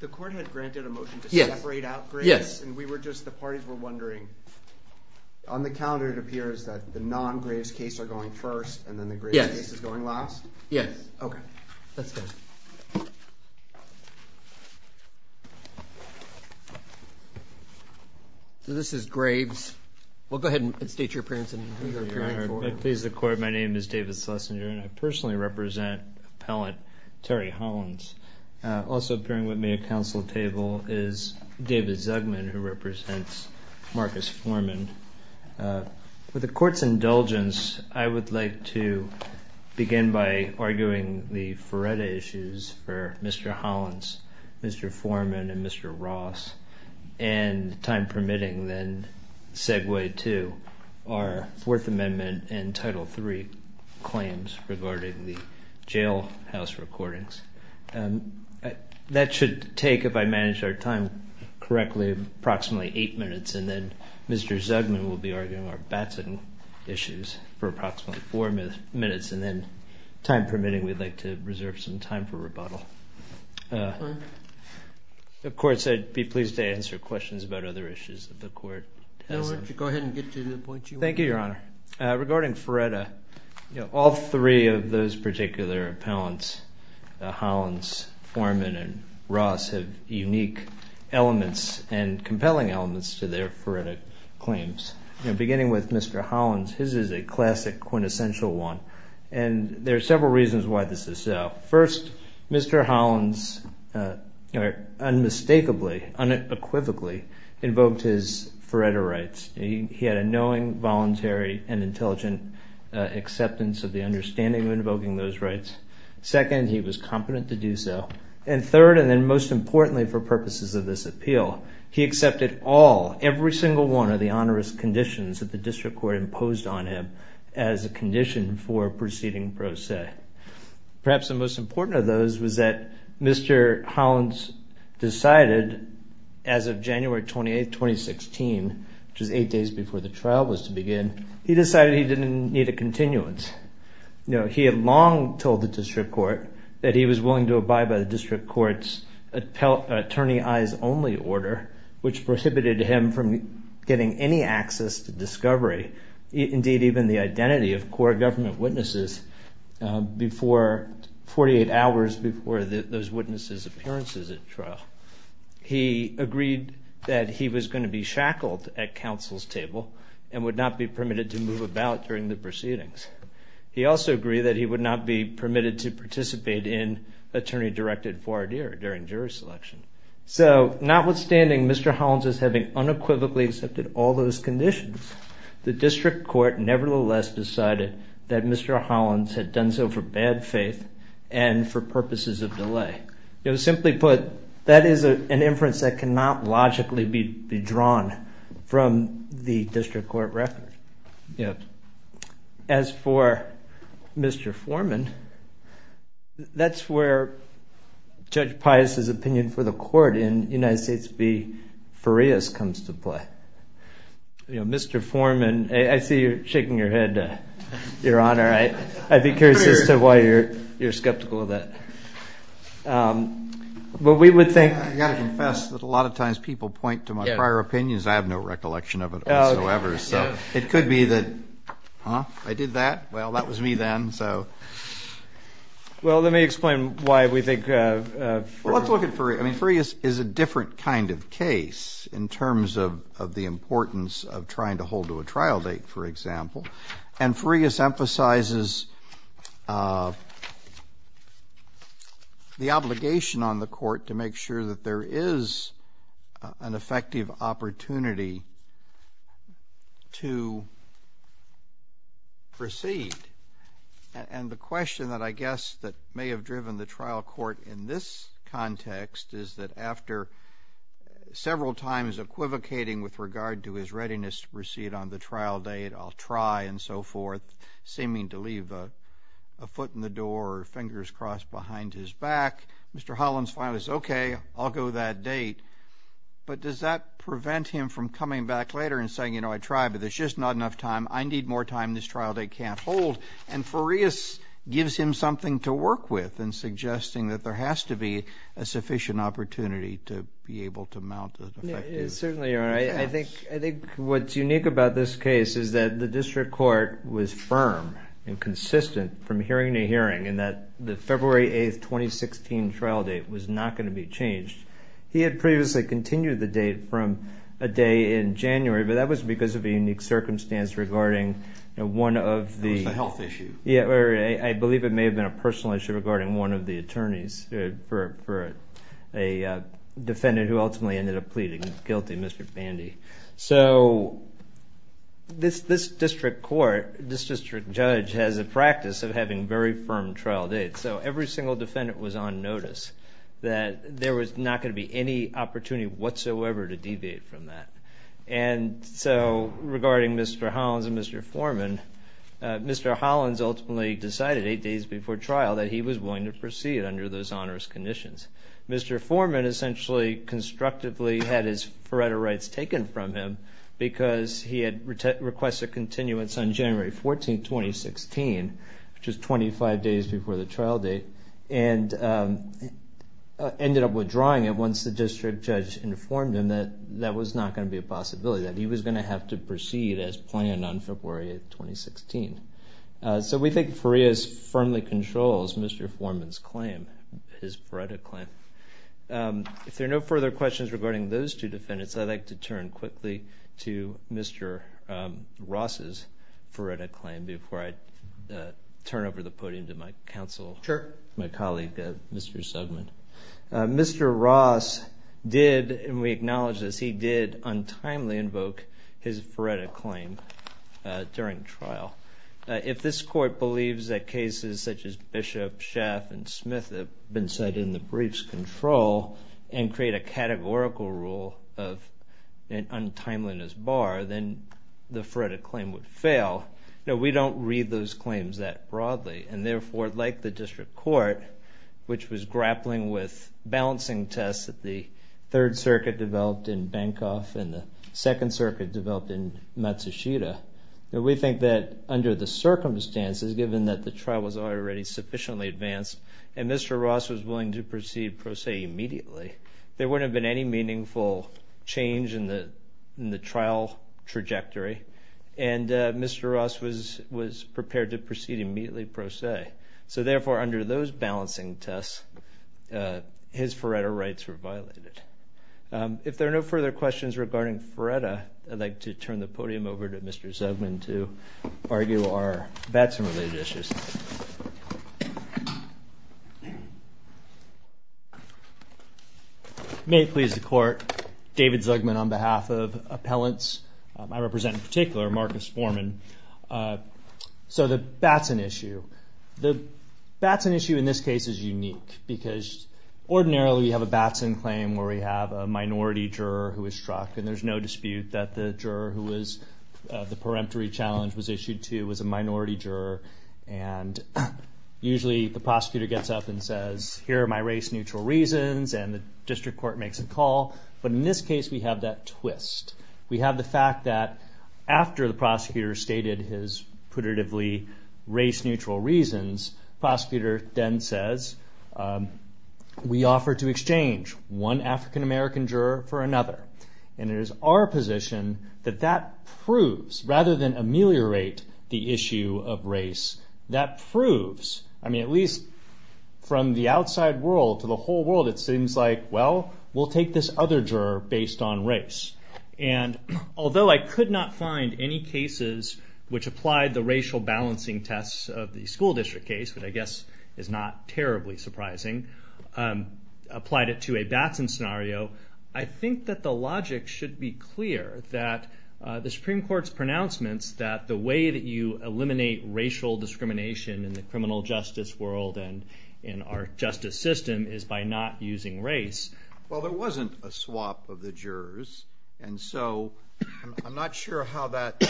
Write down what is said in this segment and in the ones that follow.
The Court had granted a motion to separate out graves, and the parties were wondering, on the calendar it appears that the non-graves case are going first, and then the graves case is going last? Yes. Okay. So this is graves. We'll go ahead and state your appearance and who you're appearing for. I please the Court. My name is David Schlesinger, and I personally represent Appellant Terry Hollins. Also appearing with me at council table is David Zugman, who represents Marcus Foreman. With the Court's indulgence, I would like to begin by arguing the Feretta issues for Mr. Hollins, Mr. Foreman, and Mr. Ross, and, time permitting, then segue to our Fourth Amendment and Title III claims regarding the jailhouse recordings. That should take, if I manage our time correctly, approximately eight minutes, and then Mr. Zugman will be arguing our Batson issues for approximately four minutes, and then, time permitting, we'd like to reserve some time for rebuttal. Of course, I'd be pleased to answer questions about other issues that the Court has. Go ahead and get to the point you want. Thank you, Your Honor. Regarding Feretta, all three of those particular appellants, Hollins, Foreman, and Ross, have unique elements and compelling elements to their Feretta claims. Beginning with Mr. Hollins, his is a classic quintessential one, and there are several reasons why this is so. First, Mr. Hollins unmistakably, unequivocally invoked his Feretta rights. He had a knowing, voluntary, and intelligent acceptance of the understanding of invoking those rights. Second, he was competent to do so. And third, and then most importantly for purposes of this appeal, he accepted all, every single one of the onerous conditions that the District Court imposed on him as a condition for proceeding pro se. Perhaps the most important of those was that Mr. Hollins decided, as of January 28, 2016, which was eight days before the trial was to begin, he decided he didn't need a continuance. He had long told the District Court that he was willing to abide by the District Court's attorney-eyes-only order, which prohibited him from getting any access to discovery, indeed even the identity of core government witnesses, 48 hours before those witnesses' appearances at trial. He agreed that he was going to be shackled at counsel's table and would not be permitted to move about during the proceedings. He also agreed that he would not be permitted to participate in attorney-directed voir dire during jury selection. So notwithstanding Mr. Hollins' having unequivocally accepted all those conditions, the District Court nevertheless decided that Mr. Hollins had done so for bad faith and for purposes of delay. Simply put, that is an inference that cannot logically be drawn from the District Court record. As for Mr. Foreman, that's where Judge Pius' opinion for the court in United States v. Farias comes to play. Mr. Foreman, I see you're shaking your head, Your Honor. I'd be curious as to why you're skeptical of that. Well, we would think- I've got to confess that a lot of times people point to my prior opinions. I have no recollection of it whatsoever. So it could be that I did that. Well, that was me then. Well, let me explain why we think- Well, let's look at Farias. I mean, Farias is a different kind of case in terms of the importance of trying to hold to a trial date, for example. And Farias emphasizes the obligation on the court to make sure that there is an effective opportunity to proceed. And the question that I guess that may have driven the trial court in this context is that after several times equivocating with regard to his readiness to proceed on the trial date, I'll try, and so forth, seeming to leave a foot in the door or fingers crossed behind his back, Mr. Hollins finally says, okay, I'll go to that date. But does that prevent him from coming back later and saying, you know, I tried, but there's just not enough time, I need more time, this trial date can't hold. And Farias gives him something to work with in suggesting that there has to be a sufficient opportunity to be able to mount an effective- Certainly, Your Honor. I think what's unique about this case is that the district court was firm and consistent from hearing to hearing in that the February 8, 2016 trial date was not going to be changed. He had previously continued the date from a day in January, but that was because of a unique circumstance regarding one of the- It was a health issue. Yeah, or I believe it may have been a personal issue regarding one of the attorneys for a defendant who ultimately ended up pleading guilty, Mr. Bandy. So this district court, this district judge has a practice of having very firm trial dates. So every single defendant was on notice that there was not going to be any opportunity whatsoever to deviate from that. And so regarding Mr. Hollins and Mr. Foreman, Mr. Hollins ultimately decided eight days before trial that he was willing to proceed under those onerous conditions. Mr. Foreman essentially constructively had his forerunner rights taken from him because he had requested continuance on January 14, 2016, which was 25 days before the trial date, and ended up withdrawing it once the district judge informed him that that was not going to be a possibility, that he was going to have to proceed as planned on February 8, 2016. So we think Farias firmly controls Mr. Foreman's claim, his VRETA claim. If there are no further questions regarding those two defendants, I'd like to turn quickly to Mr. Ross's VRETA claim before I turn over the podium to my counsel. Sure. My colleague, Mr. Suggman. Mr. Ross did, and we acknowledge this, he did untimely invoke his VRETA claim during trial. If this court believes that cases such as Bishop, Schaff, and Smith have been set in the brief's control and create a categorical rule of an untimeliness bar, then the VRETA claim would fail. We don't read those claims that broadly, and therefore, like the district court, which was grappling with balancing tests that the Third Circuit developed in Bancroft and the Second Circuit developed in Matsushita, we think that under the circumstances, given that the trial was already sufficiently advanced and Mr. Ross was willing to proceed pro se immediately, there wouldn't have been any meaningful change in the trial trajectory. And Mr. Ross was prepared to proceed immediately pro se. So therefore, under those balancing tests, his VRETA rights were violated. If there are no further questions regarding VRETA, I'd like to turn the podium over to Mr. Suggman to argue our Batson-related issues. May it please the Court, David Suggman on behalf of appellants. I represent in particular Marcus Foreman. So the Batson issue. The Batson issue in this case is unique because ordinarily we have a Batson claim where we have a minority juror who is struck, and there's no dispute that the juror who the peremptory challenge was issued to was a minority juror, and usually the prosecutor gets up and says, here are my race-neutral reasons, and the district court makes a call. But in this case, we have that twist. We have the fact that after the prosecutor stated his putatively race-neutral reasons, the prosecutor then says, we offer to exchange one African-American juror for another. And it is our position that that proves, rather than ameliorate the issue of race, that proves, I mean, at least from the outside world to the whole world, it seems like, well, we'll take this other juror based on race. And although I could not find any cases which applied the racial balancing tests of the school district case, which I guess is not terribly surprising, applied it to a Batson scenario, I think that the logic should be clear that the Supreme Court's pronouncements that the way that you eliminate racial discrimination in the criminal justice world and in our justice system is by not using race. Well, there wasn't a swap of the jurors, and so I'm not sure how that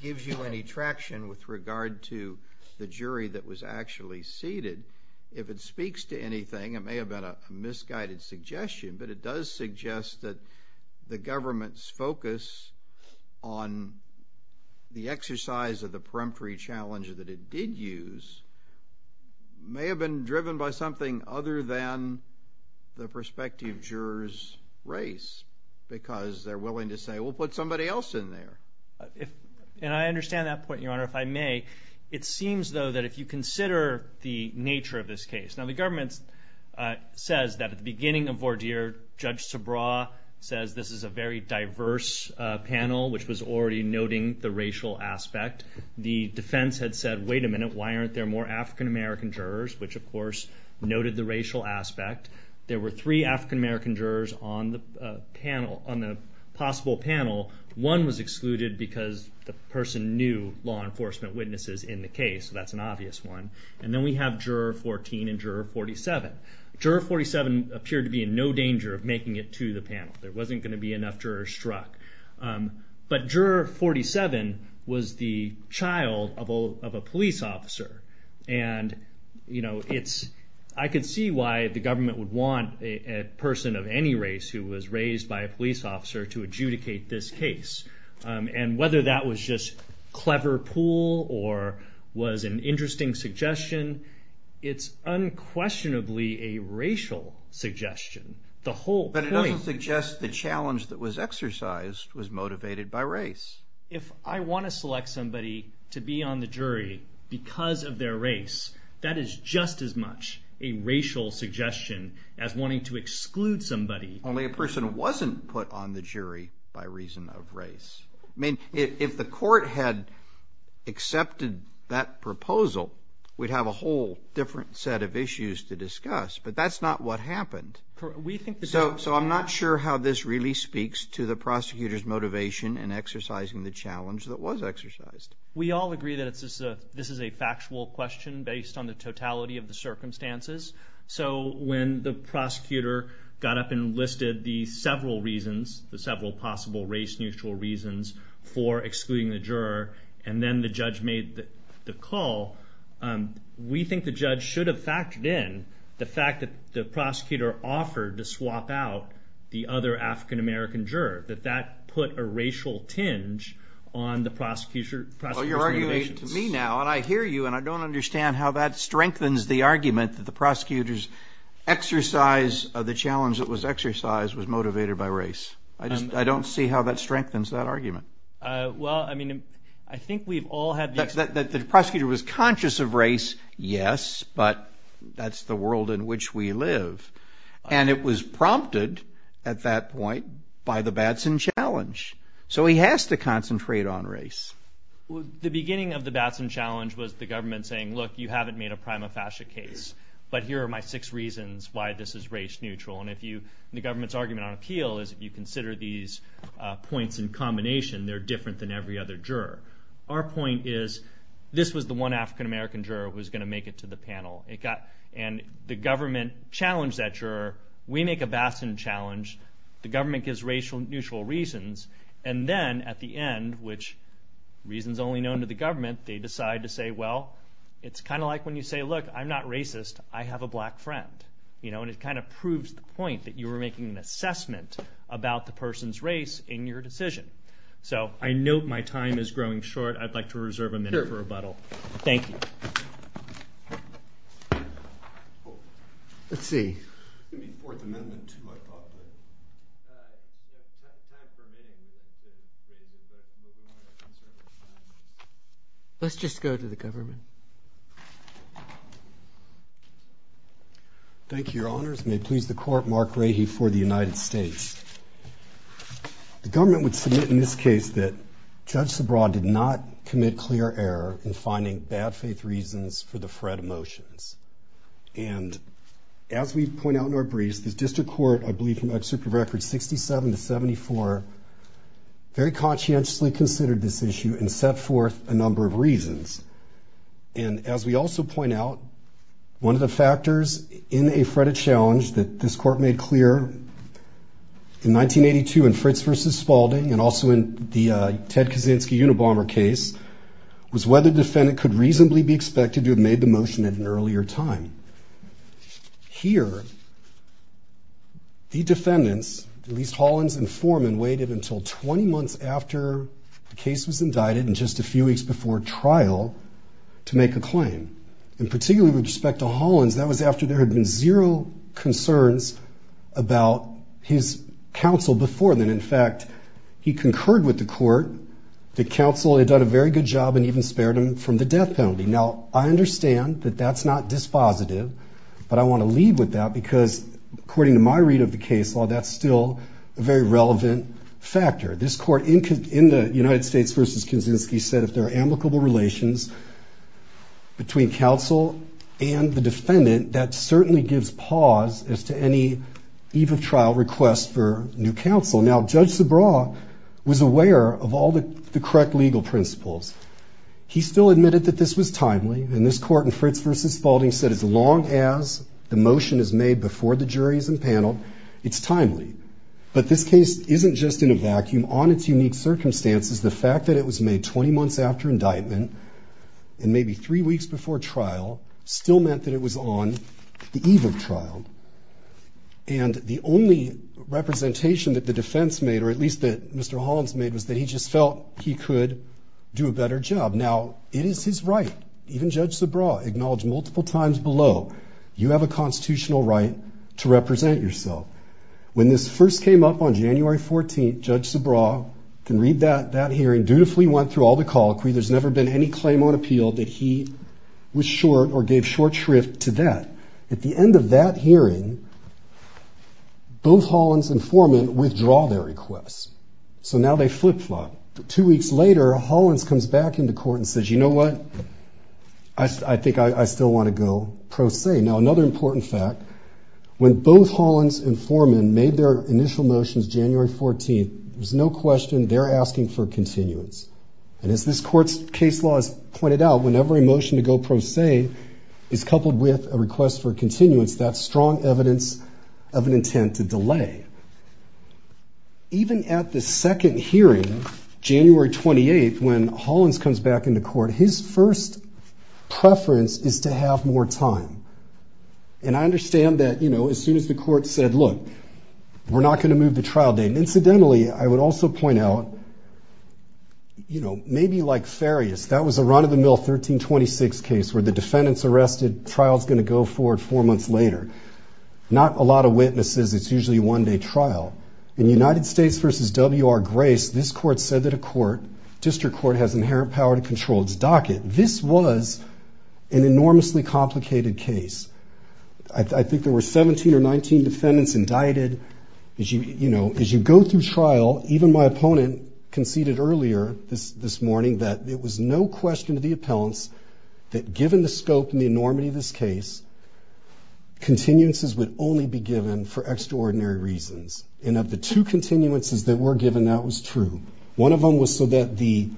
gives you any traction with regard to the jury that was actually seated. If it speaks to anything, it may have been a misguided suggestion, but it does suggest that the government's focus on the exercise of the may have been driven by something other than the prospective juror's race because they're willing to say, well, put somebody else in there. And I understand that point, Your Honor, if I may. It seems, though, that if you consider the nature of this case, now the government says that at the beginning of Vordeer, Judge Sabraw says this is a very diverse panel, which was already noting the racial aspect. The defense had said, wait a minute, why aren't there more African-American jurors, which, of course, noted the racial aspect. There were three African-American jurors on the possible panel. One was excluded because the person knew law enforcement witnesses in the case, so that's an obvious one. And then we have Juror 14 and Juror 47. Juror 47 appeared to be in no danger of making it to the panel. There wasn't going to be enough jurors struck. But Juror 47 was the child of a police officer, and I could see why the government would want a person of any race who was raised by a police officer to adjudicate this case. And whether that was just clever pool or was an interesting suggestion, it's unquestionably a racial suggestion, the whole point. It doesn't suggest the challenge that was exercised was motivated by race. If I want to select somebody to be on the jury because of their race, that is just as much a racial suggestion as wanting to exclude somebody. Only a person wasn't put on the jury by reason of race. I mean, if the court had accepted that proposal, we'd have a whole different set of issues to discuss, but that's not what happened. So I'm not sure how this really speaks to the prosecutor's motivation in exercising the challenge that was exercised. We all agree that this is a factual question based on the totality of the circumstances. So when the prosecutor got up and listed the several reasons, the several possible race-neutral reasons for excluding the juror, and then the judge made the call, we think the judge should have factored in the fact that the prosecutor offered to swap out the other African-American juror, that that put a racial tinge on the prosecutor's motivations. Well, you're arguing to me now, and I hear you, and I don't understand how that strengthens the argument that the prosecutor's exercise of the challenge that was exercised was motivated by race. I don't see how that strengthens that argument. Well, I mean, I think we've all had the experience. The prosecutor was conscious of race, yes, but that's the world in which we live. And it was prompted at that point by the Batson Challenge. So he has to concentrate on race. The beginning of the Batson Challenge was the government saying, look, you haven't made a prima facie case, but here are my six reasons why this is race-neutral. And the government's argument on appeal is if you consider these points in combination, they're different than every other juror. Our point is this was the one African-American juror who was going to make it to the panel. And the government challenged that juror. We make a Batson Challenge. The government gives racial-neutral reasons. And then at the end, which reason's only known to the government, they decide to say, well, it's kind of like when you say, look, I'm not racist. I have a black friend. And it kind of proves the point that you were making an assessment about the person's race in your decision. So I note my time is growing short. I'd like to reserve a minute for rebuttal. Thank you. Let's see. It's going to be the Fourth Amendment, too, I thought. Let's just go to the government. Thank you, Your Honors. May it please the Court, Mark Rahe for the United States. The government would submit in this case that Judge Sabraw did not commit clear error in finding bad-faith reasons for the FRED motions. And as we point out in our briefs, the district court, I believe, from Excerpt of Records 67 to 74, very conscientiously considered this issue and set forth a number of reasons. And as we also point out, one of the factors in a FRED-ed challenge that this Court made clear in 1982 in Fritz v. Spalding and also in the Ted Kaczynski Unabomber case was whether the defendant could reasonably be expected to have made the motion at an earlier time. Here, the defendants, at least Hollins and Foreman, waited until 20 months after the case was indicted and just a few weeks before trial to make a claim. And particularly with respect to Hollins, that was after there had been zero concerns about his counsel before then. In fact, he concurred with the court. The counsel had done a very good job and even spared him from the death penalty. Now, I understand that that's not dispositive, but I want to lead with that because according to my read of the case, while that's still a very relevant factor, this court in the United States v. Kaczynski said if there are amicable relations between counsel and the defendant, that certainly gives pause as to any eve of trial request for new counsel. Now, Judge Subraw was aware of all the correct legal principles. He still admitted that this was timely, and this court in Fritz v. Spalding said as long as the motion is made before the jury is impaneled, it's timely. But this case isn't just in a vacuum. On its unique circumstances, the fact that it was made 20 months after indictment and maybe three weeks before trial still meant that it was on the eve of trial. And the only representation that the defense made, or at least that Mr. Hollins made, was that he just felt he could do a better job. Now, it is his right. Even Judge Subraw acknowledged multiple times below, you have a constitutional right to represent yourself. When this first came up on January 14th, Judge Subraw can read that hearing, dutifully went through all the colloquy. There's never been any claim on appeal that he was short or gave short shrift to that. At the end of that hearing, both Hollins and Foreman withdraw their requests. So now they flip-flop. Two weeks later, Hollins comes back into court and says, you know what? I think I still want to go pro se. Now, another important fact, when both Hollins and Foreman made their initial motions January 14th, there's no question they're asking for continuance. And as this court's case law has pointed out, whenever a motion to go pro se is coupled with a request for continuance, that's strong evidence of an intent to delay. Even at the second hearing, January 28th, when Hollins comes back into court, his first preference is to have more time. And I understand that, you know, as soon as the court said, look, we're not going to move the trial date. Incidentally, I would also point out, you know, maybe like Farias, that was a run-of-the-mill 1326 case where the defendant's arrested, trial's going to go forward four months later. Not a lot of witnesses. It's usually a one-day trial. In United States v. W.R. Grace, this court said that a court, a district court has inherent power to control its docket. This was an enormously complicated case. I think there were 17 or 19 defendants indicted. As you go through trial, even my opponent conceded earlier this morning that it was no question to the appellants that given the scope and the enormity of this case, continuances would only be given for extraordinary reasons. And of the two continuances that were given, that was true. One of them was so that the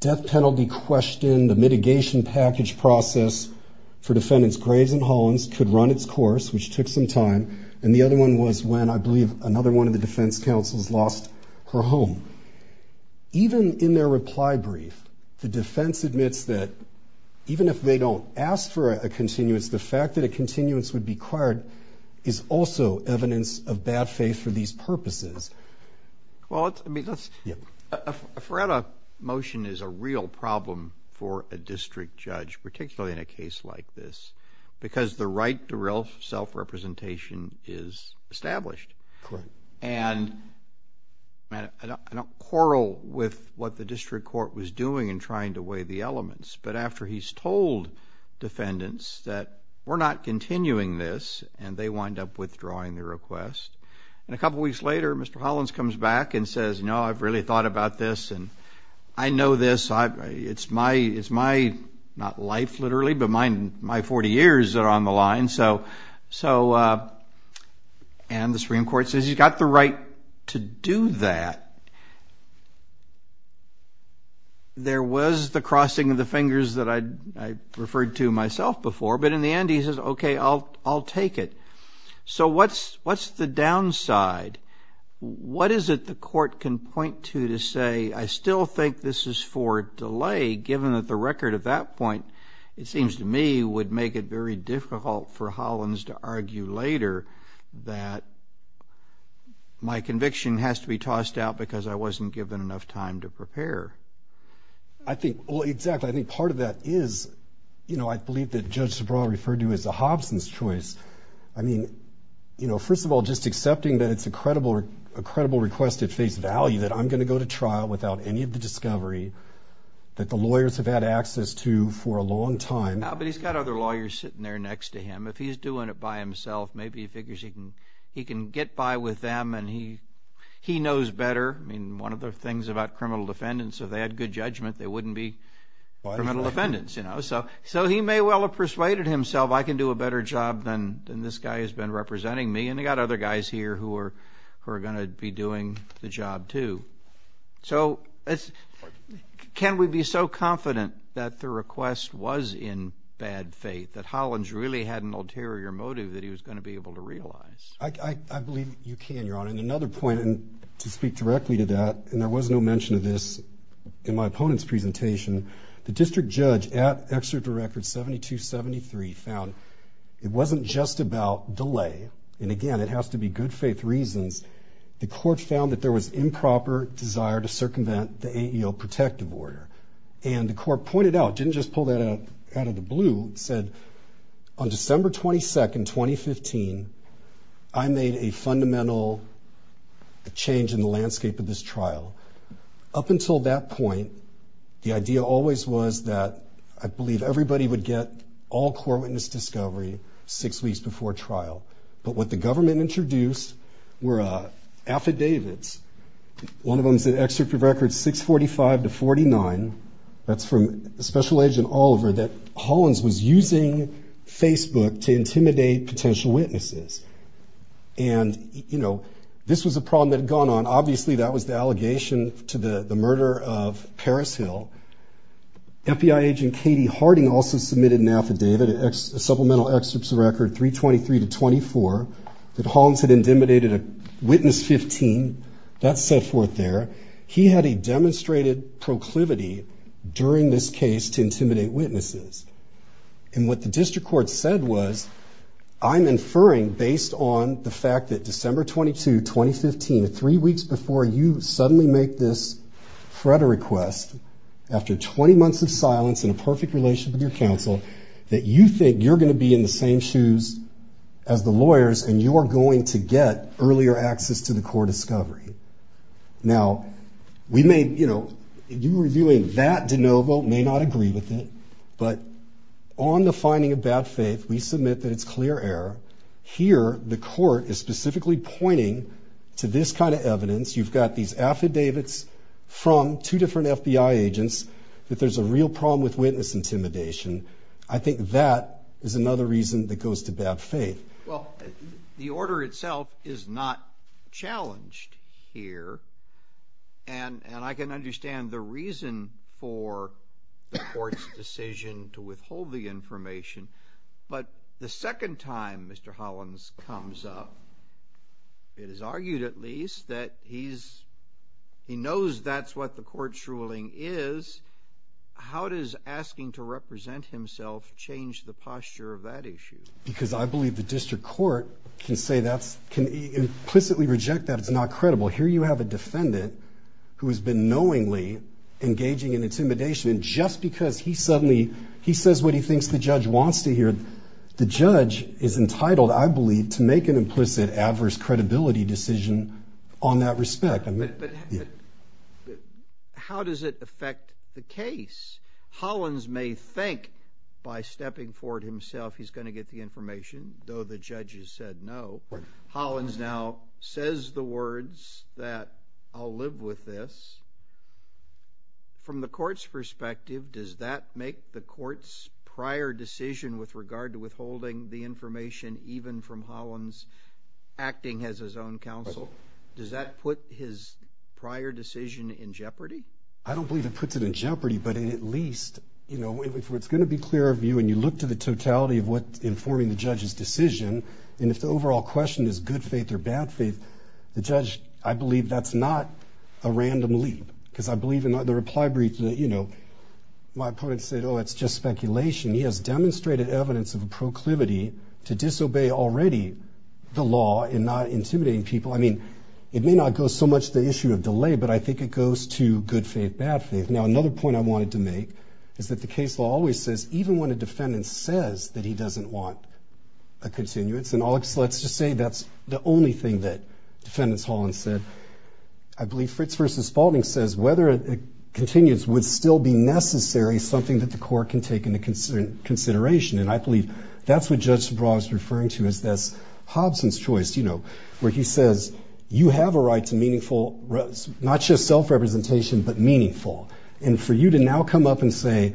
death penalty question, the mitigation package process for defendants Grace and Hollins could run its course, which took some time. And the other one was when, I believe, another one of the defense counsels lost her home. Even in their reply brief, the defense admits that even if they don't ask for a continuance, the fact that a continuance would be acquired is also evidence of bad faith for these purposes. Well, I mean, let's... Yeah. A Feretta motion is a real problem for a district judge, particularly in a case like this, because the right to real self-representation is established. Correct. And I don't quarrel with what the district court was doing in trying to weigh the elements, but after he's told defendants that we're not continuing this and they wind up withdrawing the request. And a couple weeks later, Mr. Hollins comes back and says, you know, I've really thought about this, and I know this. It's my, not life literally, but my 40 years that are on the line. And the Supreme Court says he's got the right to do that. There was the crossing of the fingers that I referred to myself before, but in the end he says, okay, I'll take it. So what's the downside? What is it the court can point to to say, I still think this is for delay, given that the record at that point, it seems to me, would make it very difficult for Hollins to argue later that my conviction has to be tossed out because I wasn't given enough time to prepare? I think, well, exactly. I think part of that is, you know, I believe that Judge Sobral referred to as a Hobson's choice. I mean, you know, first of all, just accepting that it's a credible request at face value, that I'm going to go to trial without any of the discovery that the lawyers have had access to for a long time. But he's got other lawyers sitting there next to him. If he's doing it by himself, maybe he figures he can get by with them and he knows better. I mean, one of the things about criminal defendants, if they had good judgment, they wouldn't be criminal defendants. So he may well have persuaded himself, I can do a better job than this guy who's been representing me, and they've got other guys here who are going to be doing the job too. So can we be so confident that the request was in bad faith, that Hollins really had an ulterior motive that he was going to be able to realize? I believe you can, Your Honor. And another point, and to speak directly to that, and there was no mention of this in my opponent's presentation, the district judge at Exeter Record 7273 found it wasn't just about delay, and again, it has to be good faith reasons, the court found that there was improper desire to circumvent the AEO protective order. And the court pointed out, didn't just pull that out of the blue, said, on December 22, 2015, I made a fundamental change in the landscape of this trial. Up until that point, the idea always was that I believe everybody would get all core witness discovery six weeks before trial. But what the government introduced were affidavits, one of them's at Exeter Record 645-49, that's from Special Agent Oliver, that Hollins was using Facebook to intimidate potential witnesses. And, you know, this was a problem that had gone on. Obviously, that was the allegation to the murder of Parris Hill. FBI Agent Katie Harding also submitted an affidavit, a supplemental excerpt to Record 323-24, that Hollins had intimidated witness 15, that's set forth there. He had a demonstrated proclivity during this case to intimidate witnesses. And what the district court said was, I'm inferring based on the fact that December 22, 2015, the three weeks before you suddenly make this threat or request, after 20 months of silence and a perfect relationship with your counsel, that you think you're going to be in the same shoes as the lawyers and you're going to get earlier access to the core discovery. Now, we may, you know, you reviewing that de novo may not agree with it, but on the finding of bad faith, we submit that it's clear error. Here, the court is specifically pointing to this kind of evidence. You've got these affidavits from two different FBI agents that there's a real problem with witness intimidation. I think that is another reason that goes to bad faith. Well, the order itself is not challenged here. And I can understand the reason for the court's decision to withhold the information. But the second time Mr. Hollins comes up, it is argued at least that he knows that's what the court's ruling is. How does asking to represent himself change the posture of that issue? Because I believe the district court can implicitly reject that it's not credible. Here you have a defendant who has been knowingly engaging in intimidation, and just because he suddenly says what he thinks the judge wants to hear, the judge is entitled, I believe, to make an implicit adverse credibility decision on that respect. But how does it affect the case? Hollins may think by stepping forward himself he's going to get the information, though the judges said no. Hollins now says the words that I'll live with this. From the court's perspective, does that make the court's prior decision with regard to withholding the information, even from Hollins acting as his own counsel, does that put his prior decision in jeopardy? I don't believe it puts it in jeopardy, but at least, you know, if it's going to be clear of you and you look to the totality of what's informing the judge's decision, and if the overall question is good faith or bad faith, the judge, I believe that's not a random leap, because I believe in the reply brief that, you know, my opponent said, oh, it's just speculation. He has demonstrated evidence of a proclivity to disobey already the law in not intimidating people. I mean, it may not go so much to the issue of delay, but I think it goes to good faith, bad faith. Now, another point I wanted to make is that the case law always says, even when a defendant says that he doesn't want a continuance, and let's just say that's the only thing that Defendant Hollins said, I believe Fritz v. Spalding says whether a continuance would still be necessary, something that the court can take into consideration, and I believe that's what Judge DuBois is referring to as this Hobson's choice, you know, where he says you have a right to meaningful, not just self-representation, but meaningful, and for you to now come up and say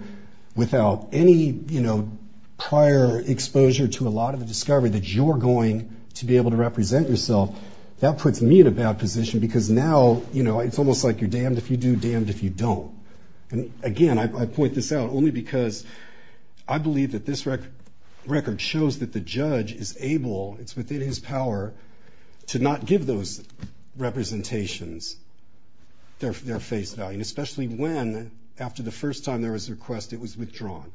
without any, you know, prior exposure to a lot of the discovery that you're going to be able to represent yourself, that puts me in a bad position, because now, you know, it's almost like you're damned if you do, damned if you don't. And again, I point this out only because I believe that this record shows that the judge is able, it's within his power to not give those representations their face value, and especially when, after the first time there was a request, it was withdrawn.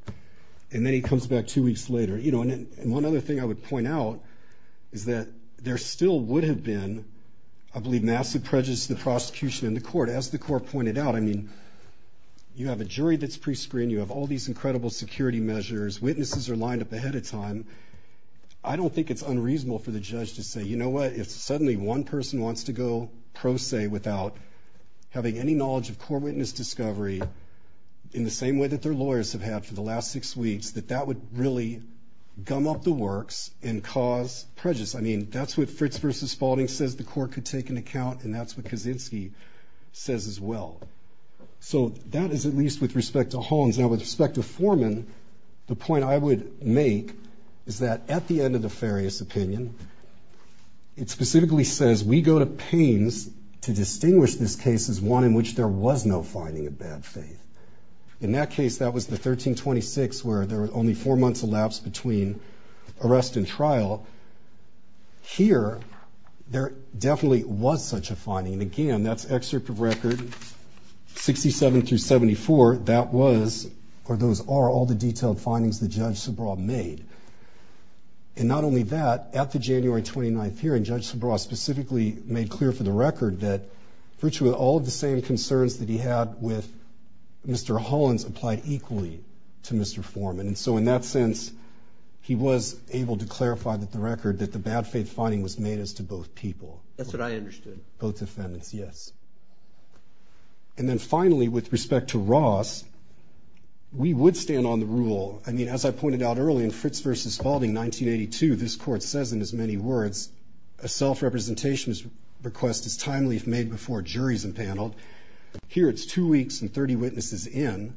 And then he comes back two weeks later. You know, and one other thing I would point out is that there still would have been, I believe, massive prejudice to the prosecution in the court. As the court pointed out, I mean, you have a jury that's prescreened. You have all these incredible security measures. Witnesses are lined up ahead of time. I don't think it's unreasonable for the judge to say, you know what, if suddenly one person wants to go pro se without having any knowledge of core witness discovery, in the same way that their lawyers have had for the last six weeks, that that would really gum up the works and cause prejudice. I mean, that's what Fritz versus Spalding says the court could take into account, and that's what Kaczynski says as well. So that is at least with respect to Holmes. Now, with respect to Foreman, the point I would make is that at the end of the Farias opinion, it specifically says we go to pains to distinguish this case as one in which there was no finding of bad faith. In that case, that was the 1326, where there were only four months elapsed between arrest and trial. Here, there definitely was such a finding, and again, that's excerpt of record 67 through 74. That was, or those are, all the detailed findings the judge Subraw made. And not only that, at the January 29th hearing, Judge Subraw specifically made clear for the record that virtually all of the same concerns that he had with Mr. Hollins applied equally to Mr. Foreman. And so in that sense, he was able to clarify that the record, that the bad faith finding was made as to both people. That's what I understood. Both defendants, yes. I mean, as I pointed out earlier, in Fritz v. Spalding, 1982, this court says in as many words, a self-representation request is timely if made before a jury is empaneled. Here, it's two weeks and 30 witnesses in.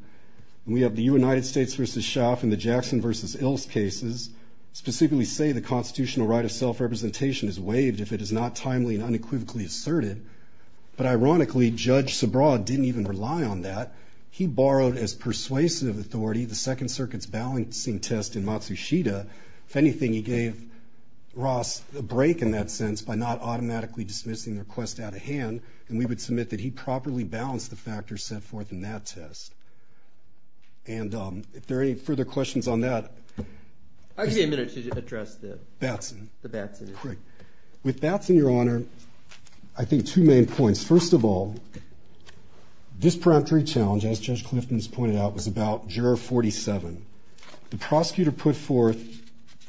We have the United States v. Schaaf and the Jackson v. Ilse cases, specifically say the constitutional right of self-representation is waived if it is not timely and unequivocally asserted. But ironically, Judge Subraw didn't even rely on that. He borrowed as persuasive authority the Second Circuit's balancing test in Matsushita. If anything, he gave Ross a break in that sense by not automatically dismissing the request out of hand, and we would submit that he properly balanced the factors set forth in that test. And if there are any further questions on that. I'll give you a minute to address the Batson issue. With Batson, Your Honor, I think two main points. First of all, this peremptory challenge, as Judge Clifton has pointed out, was about Juror 47. The prosecutor put forth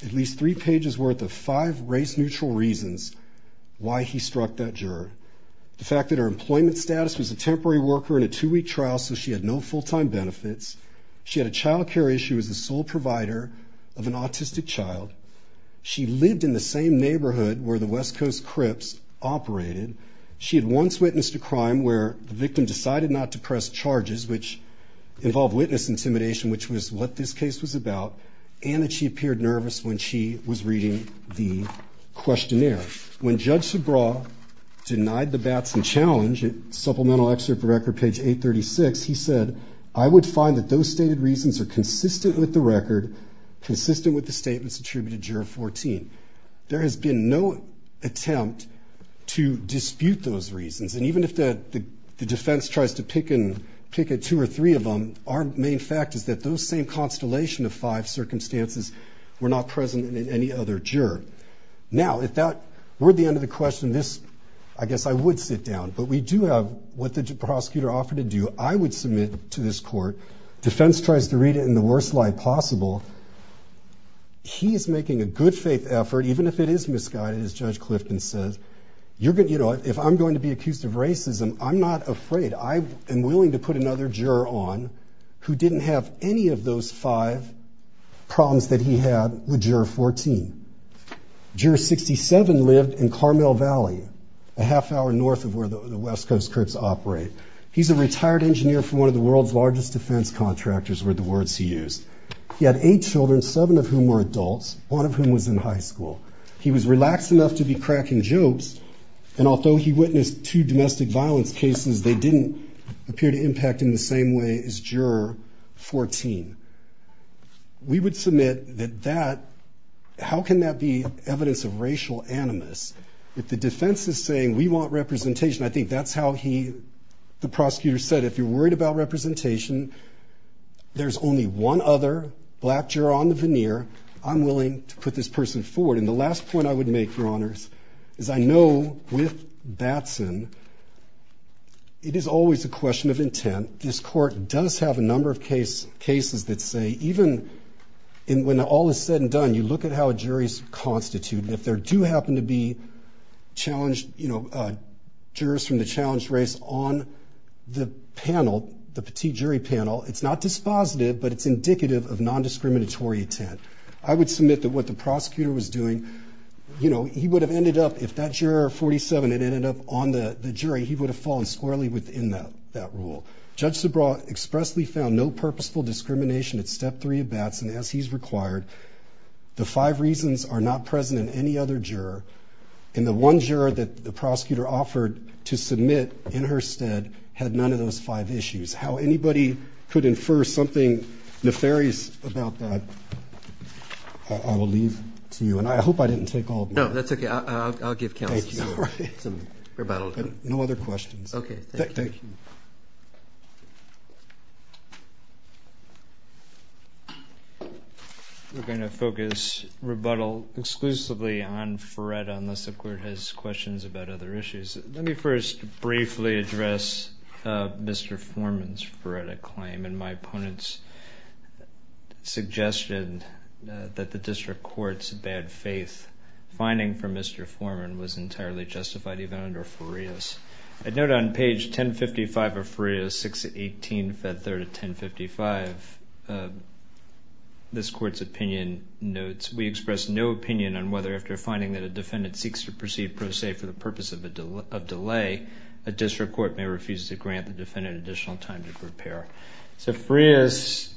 at least three pages worth of five race-neutral reasons why he struck that juror. The fact that her employment status was a temporary worker in a two-week trial, so she had no full-time benefits. She had a child care issue as the sole provider of an autistic child. She lived in the same neighborhood where the West Coast Crips operated. She had once witnessed a crime where the victim decided not to press charges, which involved witness intimidation, which was what this case was about, and that she appeared nervous when she was reading the questionnaire. When Judge Sobraw denied the Batson challenge, Supplemental Excerpt for Record, page 836, he said, I would find that those stated reasons are consistent with the record, consistent with the statements attributed to Juror 14. There has been no attempt to dispute those reasons. And even if the defense tries to pick two or three of them, our main fact is that those same constellation of five circumstances were not present in any other juror. Now, if that were the end of the question, I guess I would sit down. But we do have what the prosecutor offered to do. I would submit to this court. Defense tries to read it in the worst light possible. He is making a good faith effort, even if it is misguided, as Judge Clifton says. You know, if I'm going to be accused of racism, I'm not afraid. I am willing to put another juror on who didn't have any of those five problems that he had with Juror 14. Juror 67 lived in Carmel Valley, a half hour north of where the West Coast Crips operate. He's a retired engineer for one of the world's largest defense contractors were the words he used. He had eight children, seven of whom were adults, one of whom was in high school. He was relaxed enough to be cracking jokes. And although he witnessed two domestic violence cases, they didn't appear to impact him the same way as Juror 14. We would submit that that, how can that be evidence of racial animus? If the defense is saying we want representation, I think that's how he, the prosecutor said, if you're worried about representation, there's only one other black juror on the veneer. I'm willing to put this person forward. And the last point I would make, Your Honors, is I know with Batson, it is always a question of intent. This court does have a number of cases that say even when all is said and done, you look at how a jury is constituted. If there do happen to be challenged, you know, jurors from the challenged race on the panel, the petite jury panel, it's not dispositive, but it's indicative of non-discriminatory intent. I would submit that what the prosecutor was doing, you know, he would have ended up, if that juror 47 had ended up on the jury, he would have fallen squarely within that rule. Judge Zabraw expressly found no purposeful discrimination at Step 3 of Batson as he's required. The five reasons are not present in any other juror. And the one juror that the prosecutor offered to submit in her stead had none of those five issues. How anybody could infer something nefarious about that, I will leave to you. And I hope I didn't take all of them. No, that's okay. I'll give counsel some rebuttal. No other questions. Okay, thank you. Thank you. We're going to focus rebuttal exclusively on Feretta unless the Court has questions about other issues. Let me first briefly address Mr. Foreman's Feretta claim. And my opponent's suggestion that the district court's bad faith finding for Mr. Foreman was entirely justified, even under Farias. I note on page 1055 of Farias, 618, Fed 3rd of 1055, this Court's opinion notes, we express no opinion on whether after finding that a defendant seeks to proceed pro se for the purpose of delay, a district court may refuse to grant the defendant additional time to prepare. So Farias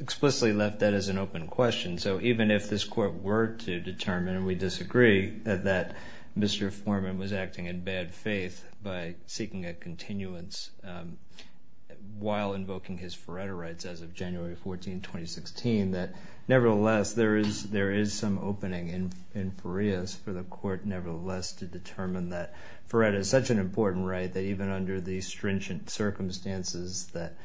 explicitly left that as an open question. So even if this Court were to determine, and we disagree, that Mr. Foreman was acting in bad faith by seeking a continuance while invoking his Feretta rights as of January 14, 2016, that nevertheless there is some opening in Farias for the Court nevertheless to determine that Feretta is such an important right that even under the stringent circumstances that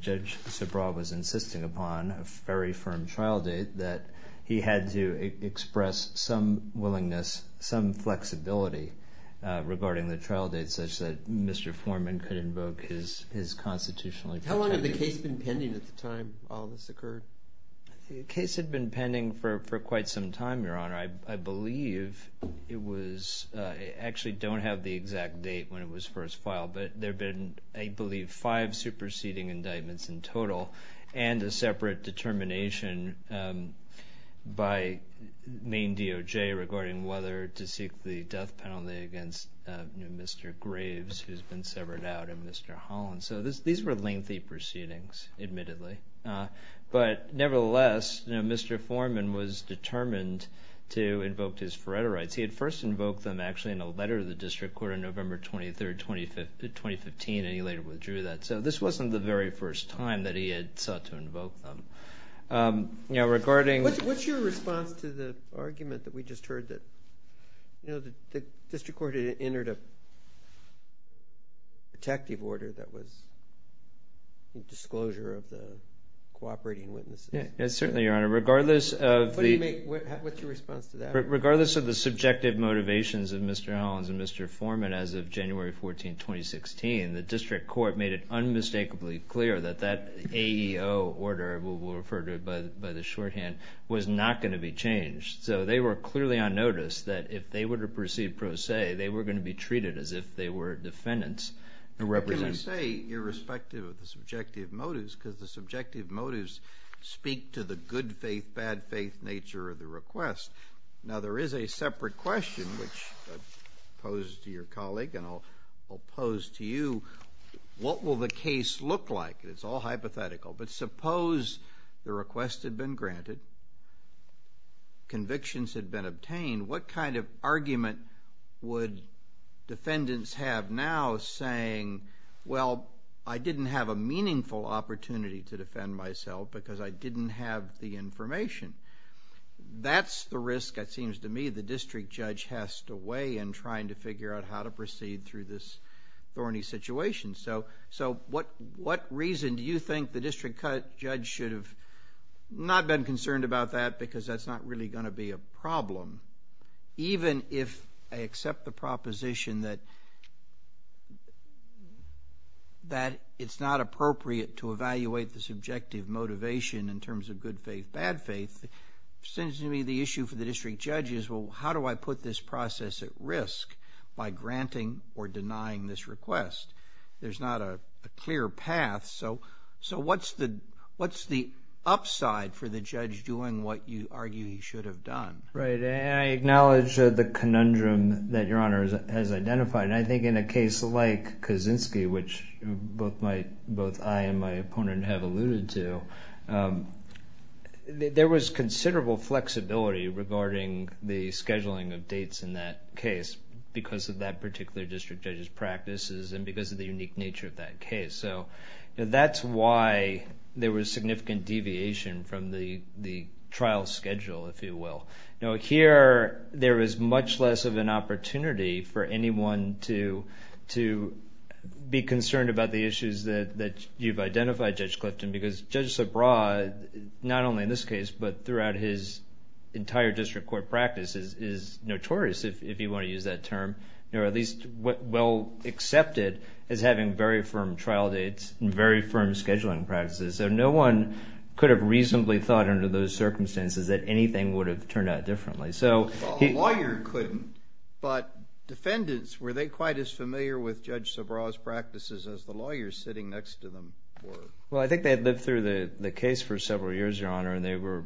Judge Sobral was insisting upon, a very firm trial date, that he had to express some willingness, some flexibility regarding the trial date such that Mr. Foreman could invoke his constitutionally protected right. How long had the case been pending at the time all this occurred? The case had been pending for quite some time, Your Honor. I believe it was, I actually don't have the exact date when it was first filed, but there have been, I believe, five superseding indictments in total, and a separate determination by Maine DOJ regarding whether to seek the death penalty against Mr. Graves, who's been severed out, and Mr. Holland. So these were lengthy proceedings, admittedly. But nevertheless, Mr. Foreman was determined to invoke his Feretta rights. He had first invoked them actually in a letter to the District Court on November 23, 2015, and he later withdrew that. So this wasn't the very first time that he had sought to invoke them. What's your response to the argument that we just heard that the District Court entered a protective order that was a disclosure of the cooperating witnesses? Certainly, Your Honor. What's your response to that? Regardless of the subjective motivations of Mr. Holland and Mr. Foreman, as of January 14, 2016, the District Court made it unmistakably clear that that AEO order, we'll refer to it by the shorthand, was not going to be changed. So they were clearly on notice that if they were to proceed pro se, they were going to be treated as if they were defendants. What can you say irrespective of the subjective motives? Because the subjective motives speak to the good faith, bad faith nature of the request. Now, there is a separate question, which I posed to your colleague and I'll pose to you. What will the case look like? It's all hypothetical. But suppose the request had been granted, convictions had been obtained, what kind of argument would defendants have now saying, well, I didn't have a meaningful opportunity to defend myself because I didn't have the information? That's the risk, it seems to me, the district judge has to weigh in trying to figure out how to proceed through this thorny situation. So what reason do you think the district judge should have not been concerned about that because that's not really going to be a problem? Even if I accept the proposition that it's not appropriate to evaluate the subjective motivation in terms of good faith, bad faith, it seems to me the issue for the district judge is, well, how do I put this process at risk by granting or denying this request? There's not a clear path. So what's the upside for the judge doing what you argue he should have done? Right. And I acknowledge the conundrum that Your Honor has identified. I think in a case like Kaczynski, which both I and my opponent have alluded to, there was considerable flexibility regarding the scheduling of dates in that case because of that particular district judge's practices and because of the unique nature of that case. So that's why there was significant deviation from the trial schedule, if you will. Here, there is much less of an opportunity for anyone to be concerned about the issues that you've identified, Judge Clifton, because Judge Sobraw, not only in this case but throughout his entire district court practice, is notorious, if you want to use that term, or at least well accepted as having very firm trial dates and very firm scheduling practices. So no one could have reasonably thought under those circumstances that anything would have turned out differently. Well, the lawyer couldn't, but defendants, were they quite as familiar with Judge Sobraw's practices as the lawyers sitting next to them were? Well, I think they had lived through the case for several years, Your Honor, and they were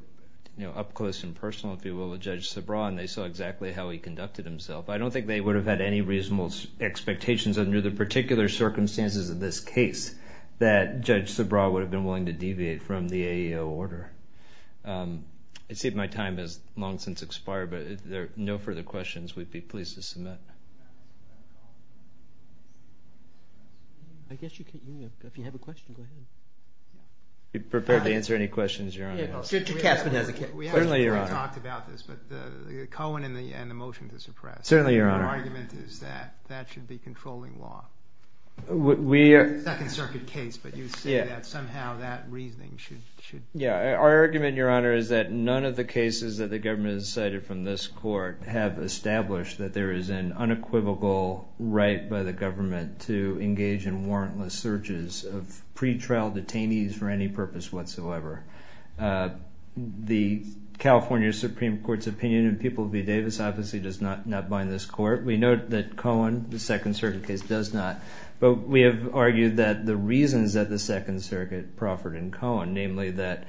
up close and personal, if you will, with Judge Sobraw, and they saw exactly how he conducted himself. I don't think they would have had any reasonable expectations under the particular circumstances of this case that Judge Sobraw would have been willing to deviate from the AEO order. I see my time has long since expired, but if there are no further questions, we'd be pleased to submit. I guess you can, if you have a question, go ahead. Are you prepared to answer any questions, Your Honor? We actually already talked about this, but Cohen and the motion to suppress, your argument is that that should be controlling law. It's a Second Circuit case, but you say that somehow that reasoning should... Yeah, our argument, Your Honor, is that none of the cases that the government has cited from this court have established that there is an unequivocal right by the government to engage in warrantless searches of pretrial detainees for any purpose whatsoever. The California Supreme Court's opinion in People v. Davis obviously does not bind this court. We note that Cohen, the Second Circuit case, does not. But we have argued that the reasons that the Second Circuit proffered in Cohen, namely that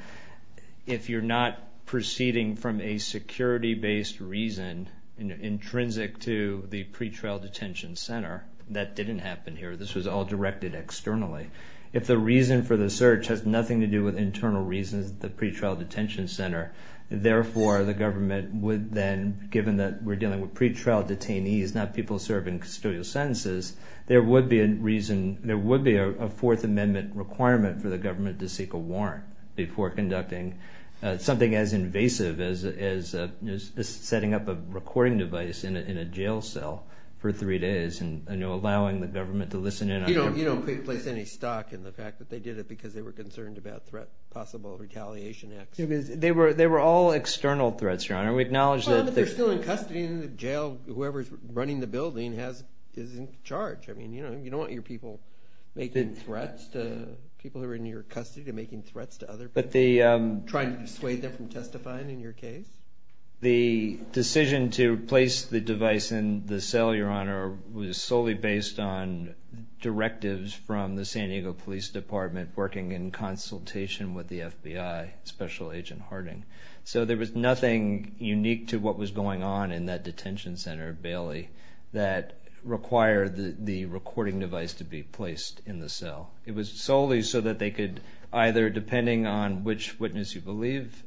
if you're not proceeding from a security-based reason intrinsic to the pretrial detention center, that didn't happen here, this was all directed externally. If the reason for the search has nothing to do with internal reasons at the pretrial detention center, therefore the government would then, given that we're dealing with pretrial detainees, not people serving custodial sentences, there would be a Fourth Amendment requirement for the government to seek a warrant before conducting something as invasive as setting up a recording device in a jail cell for three days and allowing the government to listen in on them. You don't place any stock in the fact that they did it because they were concerned about possible retaliation acts. They were all external threats, Your Honor. We acknowledge that... But they're still in custody in the jail. Whoever's running the building is in charge. You don't want your people making threats to people who are in your custody, making threats to other people, trying to dissuade them from testifying in your case. The decision to place the device in the cell, Your Honor, was solely based on directives from the San Diego Police Department working in consultation with the FBI, Special Agent Harding. So there was nothing unique to what was going on in that detention center, Bailey, that required the recording device to be placed in the cell. It was solely so that they could either, depending on which witness you believe,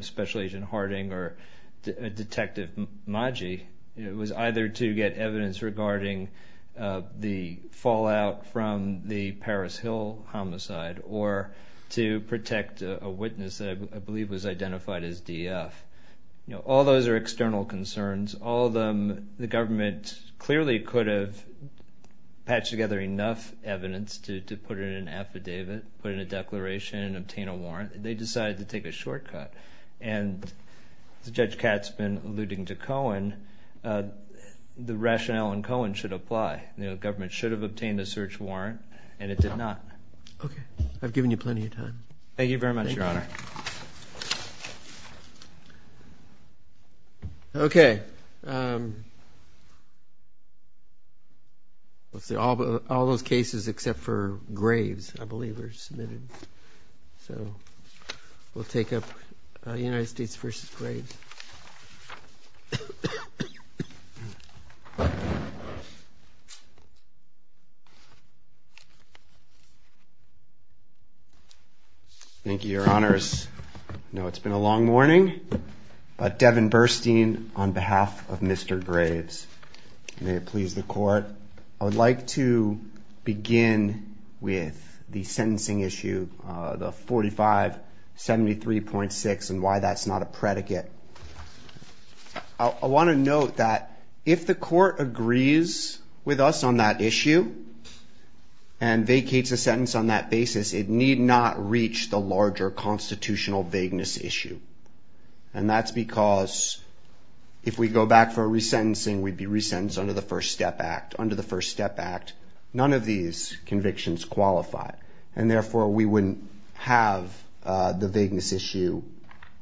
Special Agent Harding or Detective Maggi, was either to get evidence regarding the fallout from the Paris Hill homicide or to protect a witness that I believe was identified as DF. All those are external concerns. All of them, the government clearly could have patched together enough evidence to put in an affidavit, put in a declaration, and obtain a warrant. They decided to take a shortcut. And as Judge Katz has been alluding to Cohen, the rationale in Cohen should apply. The government should have obtained a search warrant, and it did not. Okay. I've given you plenty of time. Thank you very much, Your Honor. Okay. Okay. All those cases except for Graves, I believe, were submitted. So we'll take up United States v. Graves. Thank you, Your Honors. I know it's been a long morning, but Devin Burstein, on behalf of Mr. Graves, may it please the Court, I would like to begin with the sentencing issue, the 4573.6 and why that's not a predicate. I want to note that if the Court agrees with us on that issue and vacates a sentence on that basis, it need not reach the larger constitutional vagueness issue. And that's because if we go back for a resentencing, we'd be resentenced under the First Step Act. Under the First Step Act, none of these convictions qualify, and therefore we wouldn't have the vagueness issue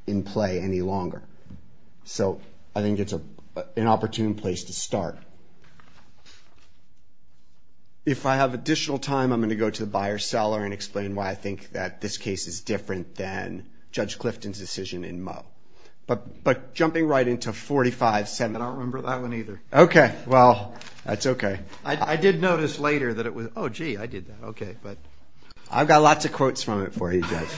in play any longer. So I think it's an opportune place to start. If I have additional time, I'm going to go to the buyer-seller and explain why I think that this case is different than Judge Clifton's decision in Moe. But jumping right into 45- I don't remember that one either. Okay. Well, that's okay. I did notice later that it was, oh, gee, I did that. Okay. I've got lots of quotes from it for you, Judge.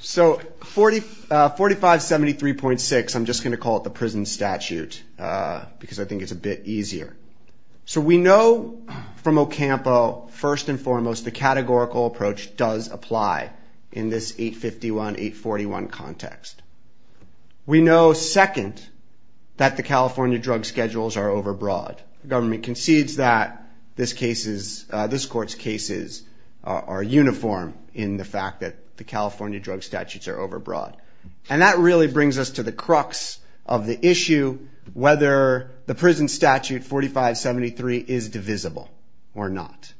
So 4573.6, I'm just going to call it the prison statute because I think it's a bit easier. So we know from Ocampo, first and foremost, the categorical approach does apply in this 851-841 context. We know, second, that the California drug schedules are overbroad. The government concedes that this Court's cases are uniform in the fact that the California drug statutes are overbroad. And that really brings us to the crux of the issue, whether the prison statute 4573 is divisible or not.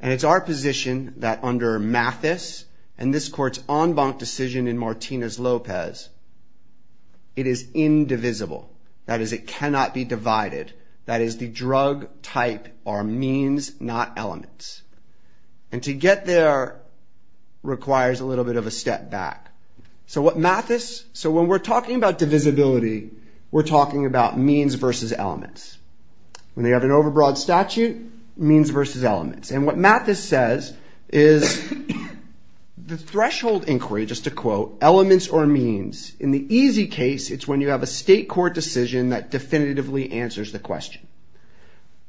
And it's our position that under Mathis and this Court's en banc decision in Martinez-Lopez, it is indivisible. That is, it cannot be divided. That is, the drug type are means, not elements. And to get there requires a little bit of a step back. So what Mathis... So when we're talking about divisibility, we're talking about means versus elements. When you have an overbroad statute, means versus elements. And what Mathis says is the threshold inquiry, just to quote, elements or means, in the easy case, it's when you have a state court decision that definitively answers the question.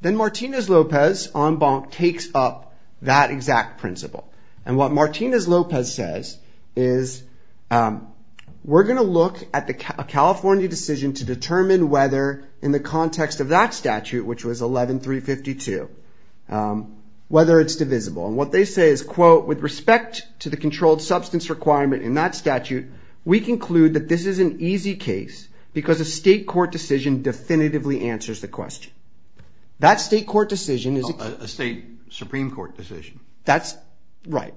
Then Martinez-Lopez en banc takes up that exact principle. And what Martinez-Lopez says is, we're going to look at a California decision to determine whether in the context of that statute, which was 11352, whether it's divisible. And what they say is, quote, with respect to the controlled substance requirement in that statute, we conclude that this is an easy case because a state court decision definitively answers the question. That state court decision is... A state Supreme Court decision. That's right.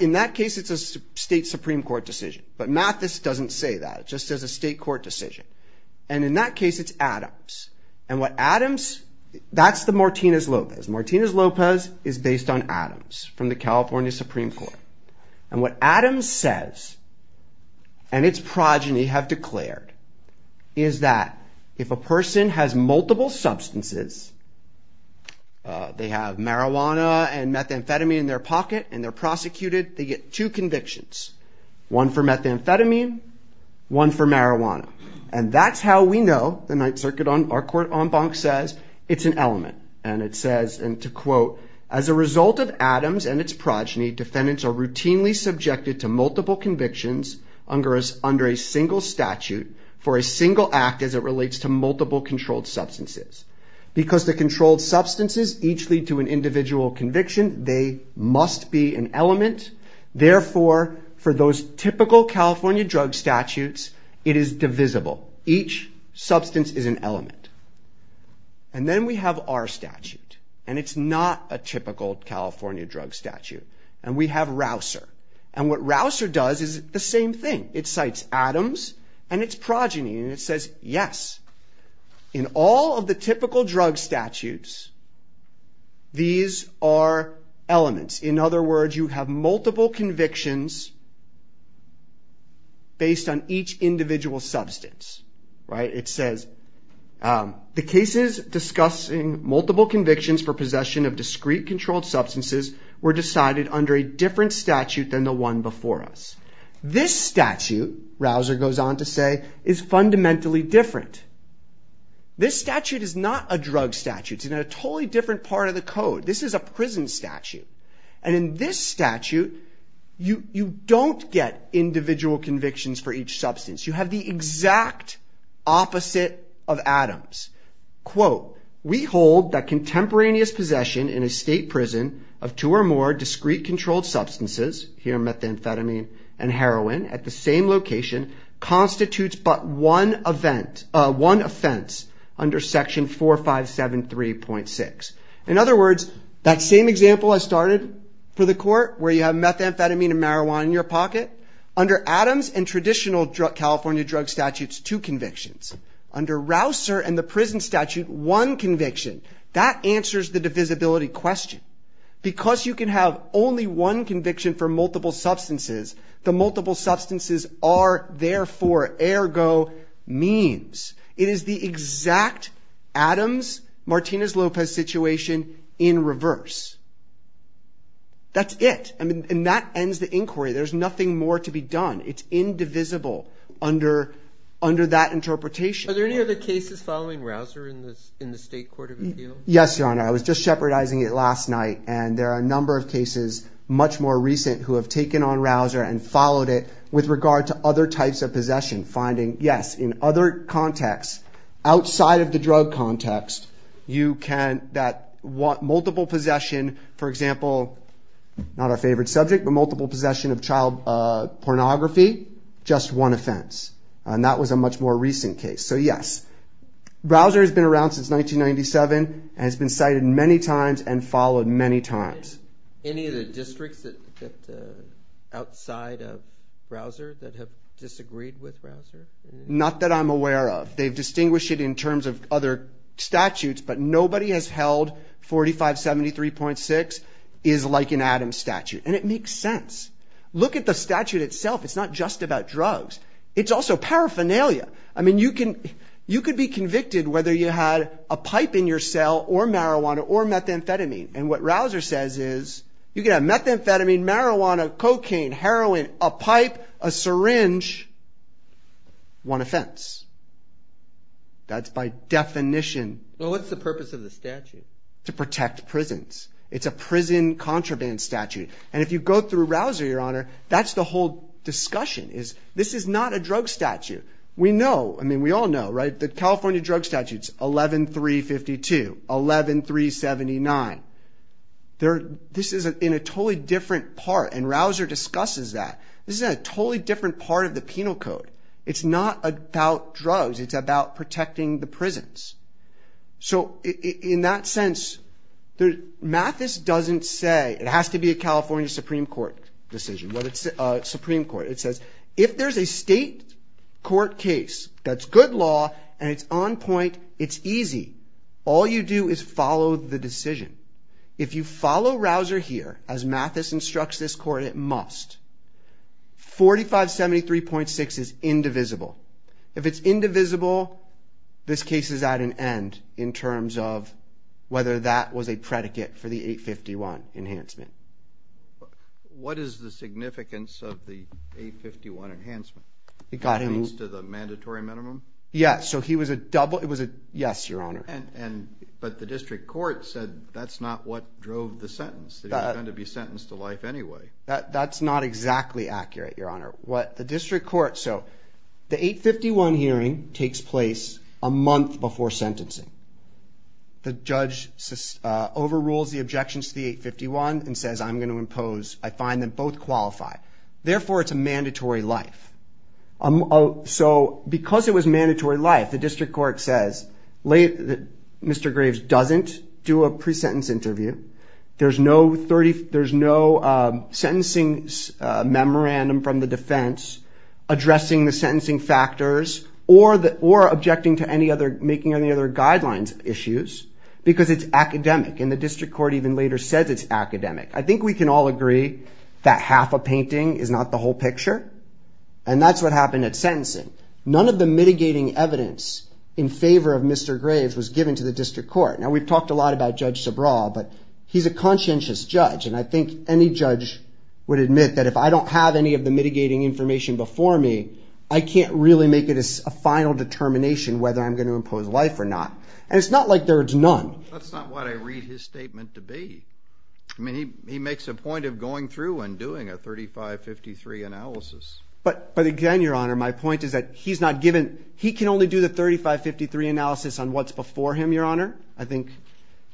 In that case, it's a state Supreme Court decision. But Mathis doesn't say that. It just says a state court decision. And in that case, it's Adams. And what Adams... That's the Martinez-Lopez. Martinez-Lopez is based on Adams from the California Supreme Court. And what Adams says, and its progeny have declared, is that if a person has multiple substances, they have marijuana and methamphetamine in their pocket, and they're prosecuted, they get two convictions. One for methamphetamine, one for marijuana. And that's how we know, the Ninth Circuit, our court en banc says, it's an element. And it says, and to quote, as a result of Adams and its progeny, defendants are routinely subjected to multiple convictions under a single statute for a single act as it relates to multiple controlled substances. Because the controlled substances each lead to an individual conviction, they must be an element. Therefore, for those typical California drug statutes, it is divisible. Each substance is an element. And then we have our statute. And it's not a typical California drug statute. And we have Rouser. And what Rouser does is the same thing. It cites Adams and its progeny. And it says, yes, in all of the typical drug statutes, these are elements. In other words, you have multiple convictions based on each individual substance. It says, the cases discussing multiple convictions for possession of discrete controlled substances were decided under a different statute than the one before us. This statute, Rouser goes on to say, is fundamentally different. This statute is not a drug statute. It's in a totally different part of the code. This is a prison statute. And in this statute, you don't get individual convictions for each substance. You have the exact opposite of Adams. Quote, we hold that contemporaneous possession in a state prison of two or more discrete controlled substances, here methamphetamine and heroin, at the same location constitutes but one offense under section 4573.6. In other words, that same example I started for the court where you have methamphetamine and marijuana in your pocket, under Adams and traditional California drug statutes, two convictions. Under Rouser and the prison statute, one conviction. That answers the divisibility question. Because you can have only one conviction for multiple substances, the multiple substances are therefore, ergo, means. It is the exact Adams-Martinez-Lopez situation in reverse. That's it. And that ends the inquiry. There's nothing more to be done. It's indivisible under that interpretation. Are there any other cases following Rouser in the state court of appeal? Yes, Your Honor. I was just shepherdizing it last night. And there are a number of cases much more recent who have taken on Rouser and followed it with regard to other types of possession, finding, yes, in other contexts, outside of the drug context, you can, that multiple possession, for example, not our favorite subject, but multiple possession of child pornography, just one offense. And that was a much more recent case. So yes, Rouser has been around since 1997 and has been cited many times and followed many times. Any of the districts outside of Rouser that have disagreed with Rouser? Not that I'm aware of. They've distinguished it in terms of other statutes, but nobody has held 4573.6 is like an Adams statute. And it makes sense. Look at the statute itself. It's not just about drugs. It's also paraphernalia. I mean, you can be convicted whether you had a pipe in your cell or marijuana or methamphetamine. And what Rouser says is, you can have methamphetamine, marijuana, cocaine, heroin, a pipe, a syringe, one offense. That's by definition. Well, what's the purpose of the statute? To protect prisons. It's a prison contraband statute. And if you go through Rouser, Your Honor, that's the whole discussion. This is not a drug statute. We know. I mean, we all know, right? The California drug statute is 11352, 11379. This is in a totally different part, and Rouser discusses that. This is in a totally different part of the penal code. It's not about drugs. It's about protecting the prisons. So in that sense, Mathis doesn't say, it has to be a California Supreme Court decision, whether it's a Supreme Court. It says, if there's a state court case that's good law and it's on point, it's easy. All you do is follow the decision. If you follow Rouser here, as Mathis instructs this court, it must. 4573.6 is indivisible. If it's indivisible, this case is at an end in terms of whether that was a predicate for the 851 enhancement. What is the significance of the 851 enhancement? It means to the mandatory minimum? Yes. So he was a double... Yes, Your Honor. But the district court said that's not what drove the sentence, that he was going to be sentenced to life anyway. That's not exactly accurate, Your Honor. The district court... The 851 hearing takes place a month before sentencing. The judge overrules the objections to the 851 and says, I'm going to impose. I find that both qualify. Therefore, it's a mandatory life. So because it was mandatory life, the district court says, Mr. Graves doesn't do a pre-sentence interview. There's no sentencing memorandum from the defense addressing the sentencing factors or objecting to making any other guidelines issues because it's academic, and the district court even later says it's academic. I think we can all agree that half a painting is not the whole picture, and that's what happened at sentencing. None of the mitigating evidence in favor of Mr. Graves was given to the district court. Now, we've talked a lot about Judge Subraw, but he's a conscientious judge, and I think any judge would admit that if I don't have any of the mitigating information before me, I can't really make a final determination whether I'm going to impose life or not. And it's not like there's none. That's not what I read his statement to be. I mean, he makes a point of going through and doing a 3553 analysis. But again, Your Honor, my point is that he's not given... He can only do the 3553 analysis on what's before him, Your Honor.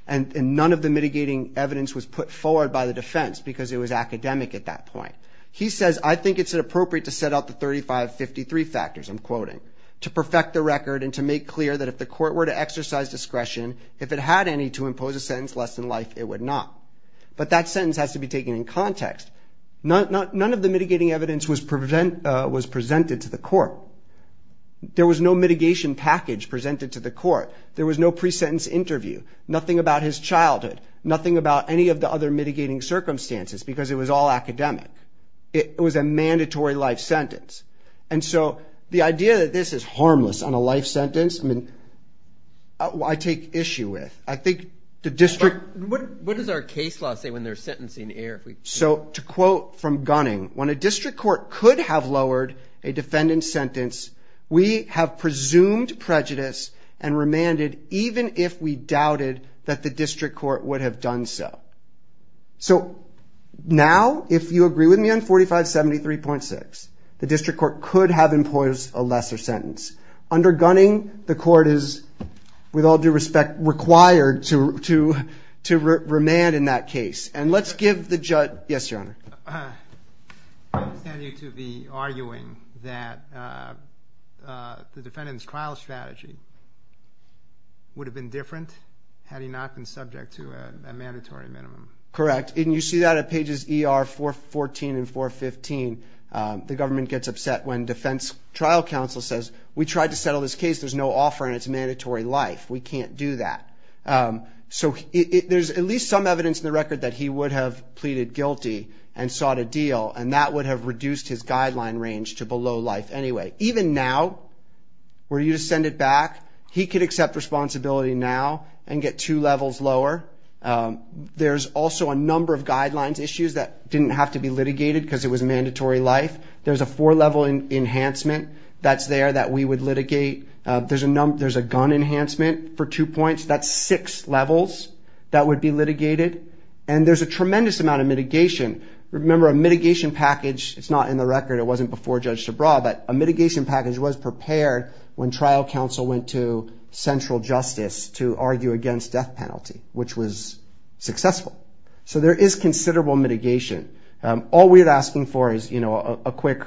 And none of the mitigating evidence was put forward by the defense because it was academic at that point. He says, I think it's appropriate to set out the 3553 factors, I'm quoting, to perfect the record and to make clear that if the court were to exercise discretion, if it had any to impose a sentence less than life, it would not. But that sentence has to be taken in context. None of the mitigating evidence was presented to the court. There was no mitigation package presented to the court. There was no pre-sentence interview, nothing about his childhood, nothing about any of the other mitigating circumstances because it was all academic. It was a mandatory life sentence. And so the idea that this is harmless on a life sentence, I mean, I take issue with. I think the district... What does our case law say when there's sentencing here? So to quote from Gunning, when a district court could have lowered a defendant's sentence, we have presumed prejudice and remanded even if we doubted that the district court would have done so. So now, if you agree with me on 4573.6, the district court could have imposed a lesser sentence. Under Gunning, the court is, with all due respect, required to remand in that case. Yes, Your Honor. I understand you to be arguing that the defendant's trial strategy would have been different had he not been subject to a mandatory minimum. Correct, and you see that at pages ER 414 and 415. The government gets upset when defense trial counsel says, we tried to settle this case. There's no offer and it's a mandatory life. We can't do that. So there's at least some evidence in the record that he would have pleaded guilty and sought a deal, and that would have reduced his guideline range to below life. Anyway, even now, were you to send it back, he could accept responsibility now and get two levels lower. There's also a number of guidelines issues that didn't have to be litigated because it was a mandatory life. There's a four-level enhancement that's there that we would litigate. There's a gun enhancement for two points. That's six levels that would be litigated. And there's a tremendous amount of mitigation. Remember, a mitigation package, it's not in the record. It wasn't before Judge Subraw, but a mitigation package was prepared when trial counsel went to central justice to argue against death penalty, which was successful. So there is considerable mitigation. All we're asking for is a quick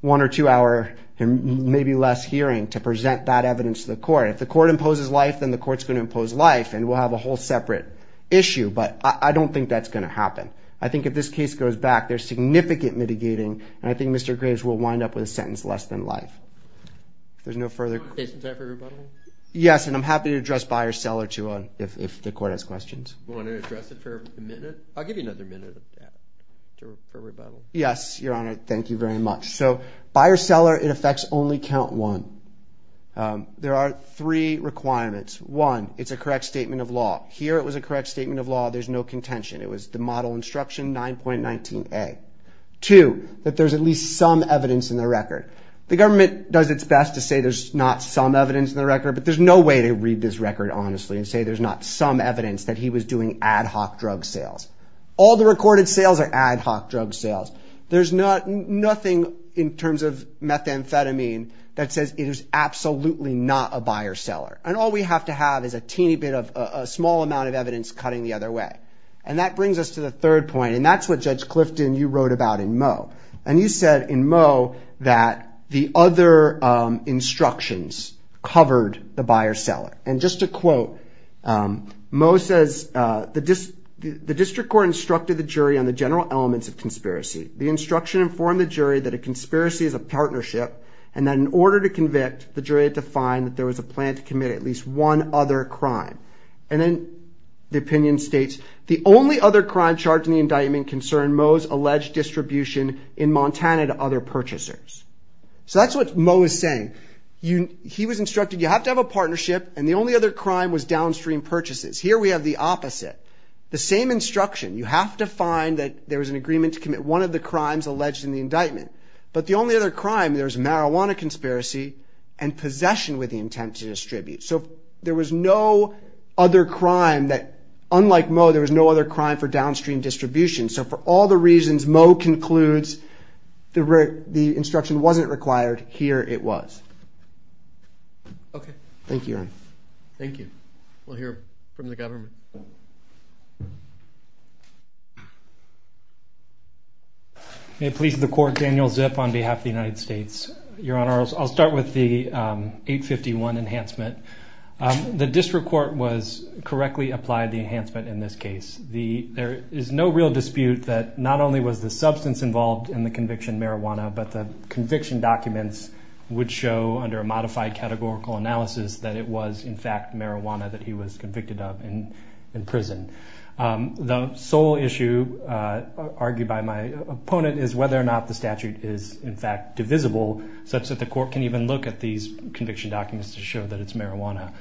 one- or two-hour, maybe less hearing to present that evidence to the court. If the court imposes life, then the court's going to impose life, and we'll have a whole separate issue. But I don't think that's going to happen. I think if this case goes back, there's significant mitigating, and I think Mr. Graves will wind up with a sentence less than life. If there's no further questions... Is there time for rebuttal? Yes, and I'm happy to address buyer-seller if the court has questions. You want to address it for a minute? I'll give you another minute for rebuttal. Yes, Your Honor, thank you very much. So buyer-seller, it affects only count one. There are three requirements. One, it's a correct statement of law. Here it was a correct statement of law. There's no contention. It was the model instruction 9.19a. Two, that there's at least some evidence in the record. The government does its best to say there's not some evidence in the record, but there's no way to read this record honestly and say there's not some evidence that he was doing ad hoc drug sales. All the recorded sales are ad hoc drug sales. There's nothing in terms of methamphetamine that says it is absolutely not a buyer-seller. And all we have to have is a teeny bit of a small amount of evidence cutting the other way. And that brings us to the third point, and that's what Judge Clifton, you wrote about in Moe. And you said in Moe that the other instructions covered the buyer-seller. And just to quote, Moe says, the district court instructed the jury on the general elements of conspiracy. The instruction informed the jury that a conspiracy is a partnership and that in order to convict, the jury had to find that there was a plan to commit at least one other crime. And then the opinion states, the only other crime charged in the indictment concerned Moe's alleged distribution in Montana to other purchasers. So that's what Moe is saying. He was instructed you have to have a partnership, and the only other crime was downstream purchases. Here we have the opposite. The same instruction. You have to find that there was an agreement to commit one of the crimes alleged in the indictment. But the only other crime, there's marijuana conspiracy and possession with the intent to distribute. So there was no other crime that, unlike Moe, there was no other crime for downstream distribution. So for all the reasons Moe concludes the instruction wasn't required, here it was. Okay. Thank you, Aaron. Thank you. We'll hear from the government. May it please the court, Daniel Zipf on behalf of the United States. Your Honor, I'll start with the 851 enhancement. The district court was correctly applied the enhancement in this case. There is no real dispute that not only was the substance involved in the conviction marijuana, but the conviction documents would show under a modified categorical analysis that it was, in fact, marijuana that he was convicted of. The sole issue argued by my opponent is whether or not the statute is, in fact, divisible, such that the court can even look at these conviction documents to show that it's marijuana.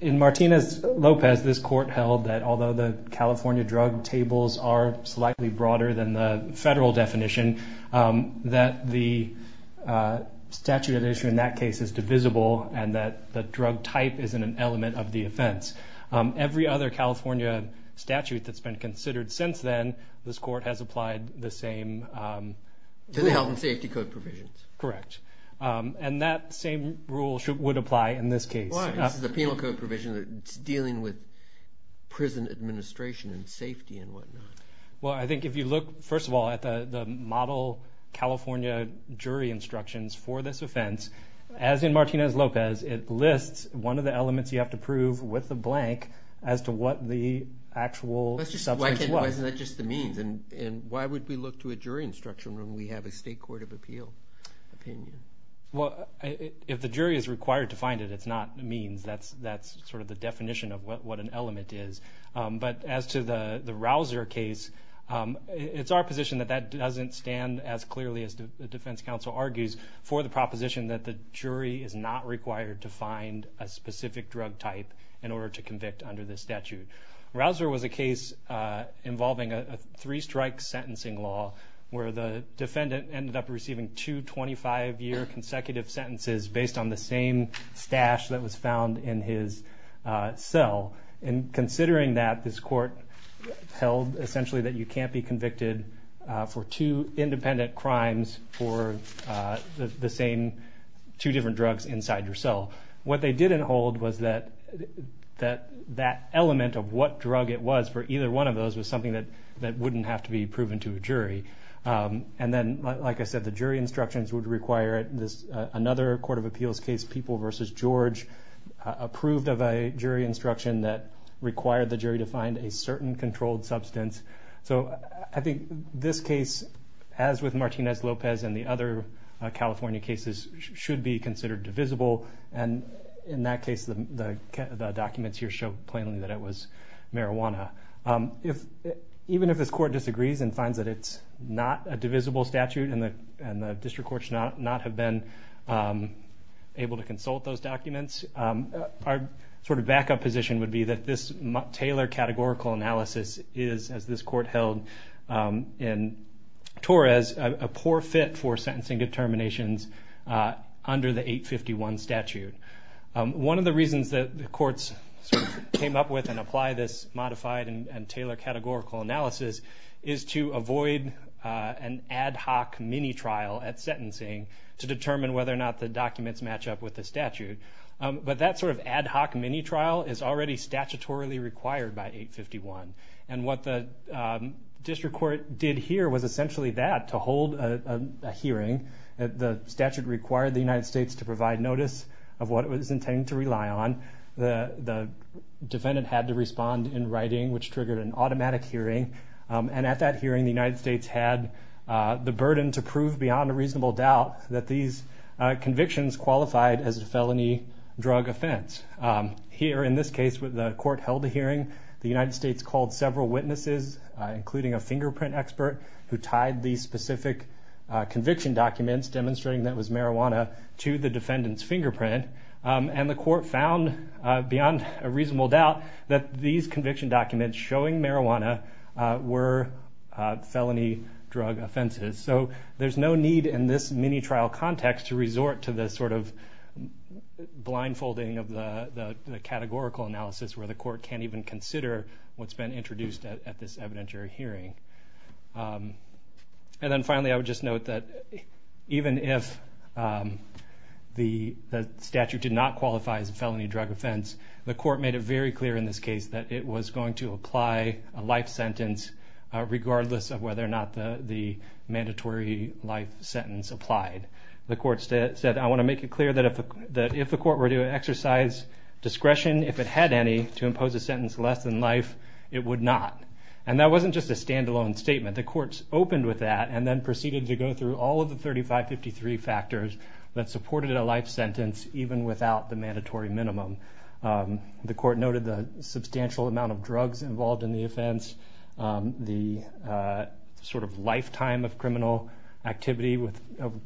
In Martinez-Lopez, this court held that although the California drug tables are slightly broader than the federal definition, that the statute of the issue in that case is divisible and that the drug type isn't an element of the offense. Every other California statute that's been considered since then, this court has applied the same rule. To the health and safety code provisions. Correct. And that same rule would apply in this case. Why? This is a penal code provision. It's dealing with prison administration and safety and whatnot. Well, I think if you look, first of all, at the model California jury instructions for this offense, as in Martinez-Lopez, it lists one of the elements you have to prove with a blank as to what the actual substance was. Why isn't that just the means? And why would we look to a jury instruction when we have a state court of appeal opinion? Well, if the jury is required to find it, it's not the means. That's sort of the definition of what an element is. But as to the Rausser case, it's our position that that doesn't stand as clearly as the defense counsel argues for the proposition that the jury is not required to find a specific drug type in order to convict under this statute. Rausser was a case involving a three-strike sentencing law where the defendant ended up receiving two 25-year consecutive sentences based on the same stash that was found in his cell. And considering that, this court held essentially that you can't be convicted for two independent crimes for the same two different drugs inside your cell. What they didn't hold was that that element of what drug it was for either one of those was something that wouldn't have to be proven to a jury. And then, like I said, the jury instructions would require another court of appeals case, People v. George, approved of a jury instruction that required the jury to find a certain controlled substance. So I think this case, as with Martinez-Lopez and the other California cases, should be considered divisible. And in that case, the documents here show plainly that it was marijuana. Even if this court disagrees and finds that it's not a divisible statute and the district courts not have been able to consult those documents, our sort of backup position would be that this Taylor categorical analysis is, as this court held in Torres, a poor fit for sentencing determinations under the 851 statute. One of the reasons that the courts came up with and applied this modified and Taylor categorical analysis is to avoid an ad hoc mini-trial at sentencing to determine whether or not the documents match up with the statute. But that sort of ad hoc mini-trial is already statutorily required by 851. And what the district court did here was essentially that, to hold a hearing. The statute required the United States to provide notice of what it was intending to rely on. The defendant had to respond in writing, which triggered an automatic hearing. And at that hearing, the United States had the burden to prove beyond a reasonable doubt that these convictions qualified as a felony drug offense. Here, in this case, the court held a hearing. The United States called several witnesses, including a fingerprint expert, who tied these specific conviction documents demonstrating that it was marijuana, to the defendant's fingerprint. And the court found, beyond a reasonable doubt, that these conviction documents showing marijuana were felony drug offenses. So there's no need in this mini-trial context to resort to this sort of blindfolding of the categorical analysis where the court can't even consider what's been introduced at this evidentiary hearing. And then finally, I would just note that, even if the statute did not qualify as a felony drug offense, the court made it very clear in this case that it was going to apply a life sentence, regardless of whether or not the mandatory life sentence applied. The court said, I want to make it clear that if the court were to exercise discretion, if it had any, to impose a sentence less than life, it would not. And that wasn't just a standalone statement. The court opened with that, and then proceeded to go through all of the 3553 factors that supported a life sentence, even without the mandatory minimum. The court noted the substantial amount of drugs involved in the offense, the sort of lifetime of criminal activity with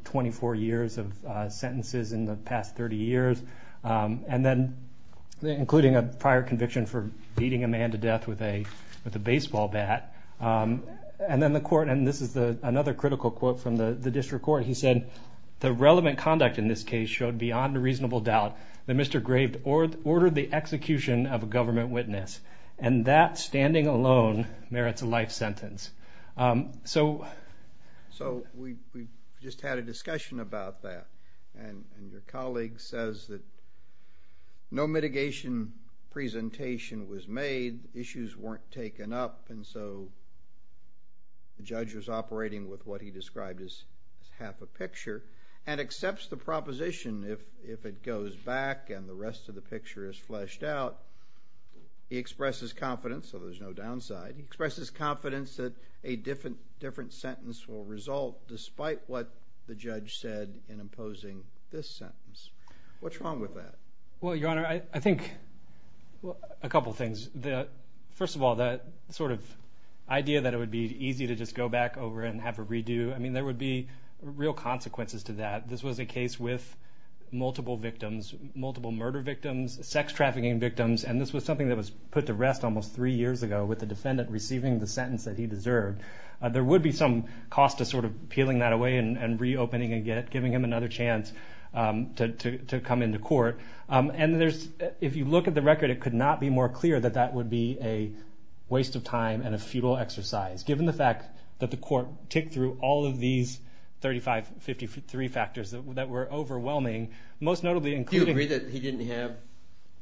24 years of sentences in the past 30 years, and then including a prior conviction for beating a man to death with a baseball bat. And then the court, and this is another critical quote from the district court, he said, the relevant conduct in this case showed beyond a reasonable doubt that Mr. Graved ordered the execution of a government witness. And that, standing alone, merits a life sentence. So we just had a discussion about that, and your colleague says that no mitigation presentation was made, issues weren't taken up, and so the judge was operating with what he described as half a picture, and accepts the proposition if it goes back and the rest of the picture is fleshed out. He expresses confidence, so there's no downside. He expresses confidence that a different sentence will result despite what the judge said in imposing this sentence. What's wrong with that? Well, Your Honor, I think a couple of things. First of all, the sort of idea that it would be easy to just go back over and have a redo, I mean, there would be real consequences to that. This was a case with multiple victims, multiple murder victims, sex trafficking victims, and this was something that was put to rest almost three years ago with the defendant receiving the sentence that he deserved. There would be some cost to sort of peeling that away and reopening and giving him another chance to come into court. And if you look at the record, it could not be more clear that that would be a waste of time and a futile exercise, given the fact that the court ticked through all of these 3553 factors that were overwhelming, most notably including... Do you agree that he didn't have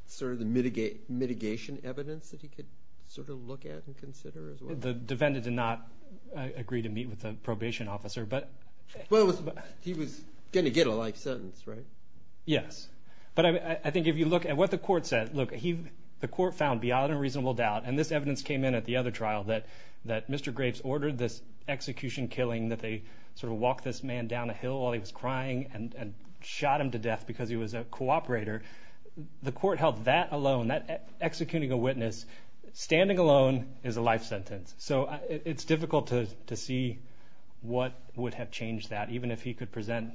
sort of the mitigation evidence that he could sort of look at and consider as well? The defendant did not agree to meet with the probation officer, but... Well, he was going to get a life sentence, right? Yes, but I think if you look at what the court said, look, the court found beyond a reasonable doubt, and this evidence came in at the other trial, that Mr. Graves ordered this execution killing, that they sort of walked this man down a hill while he was crying and shot him to death because he was a cooperator. The court held that alone. Executing a witness standing alone is a life sentence. So it's difficult to see what would have changed that, even if he could present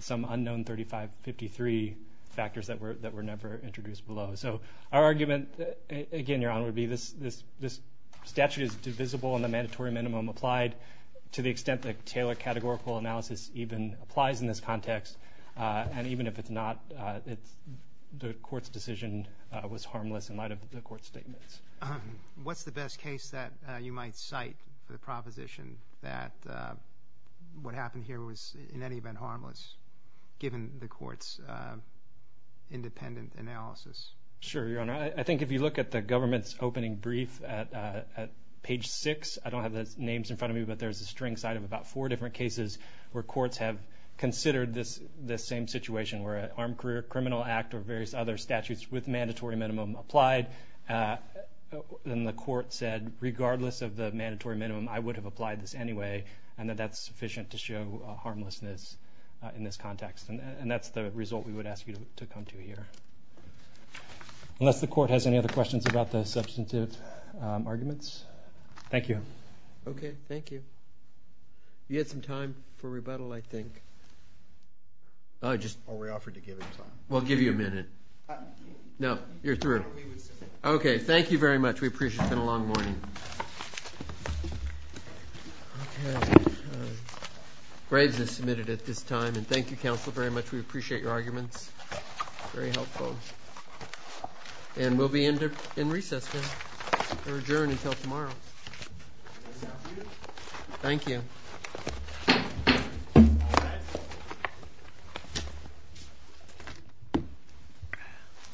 some unknown 3553 factors that were never introduced below. So our argument, again, Your Honor, would be this statute is divisible in the mandatory minimum applied to the extent that Taylor categorical analysis even applies in this context. And even if it's not, the court's decision was harmless in light of the court's statements. What's the best case that you might cite for the proposition that what happened here was in any event harmless, given the court's independent analysis? Sure, Your Honor. I think if you look at the government's opening brief at page 6, I don't have the names in front of me, but there's a string cite of about four different cases where courts have considered this same situation where an armed criminal act or various other statutes with mandatory minimum applied. And the court said, regardless of the mandatory minimum, I would have applied this anyway, and that that's sufficient to show harmlessness in this context. And that's the result we would ask you to come to here. Unless the court has any other questions about the substantive arguments. Thank you. Okay, thank you. You had some time for rebuttal, I think. Are we offered to give him time? We'll give you a minute. No, you're through. Okay, thank you very much. We appreciate it. It's been a long morning. Graves is submitted at this time, and thank you, counsel, very much. We appreciate your arguments. Very helpful. And we'll be in recess now. We're adjourned until tomorrow. Thank you.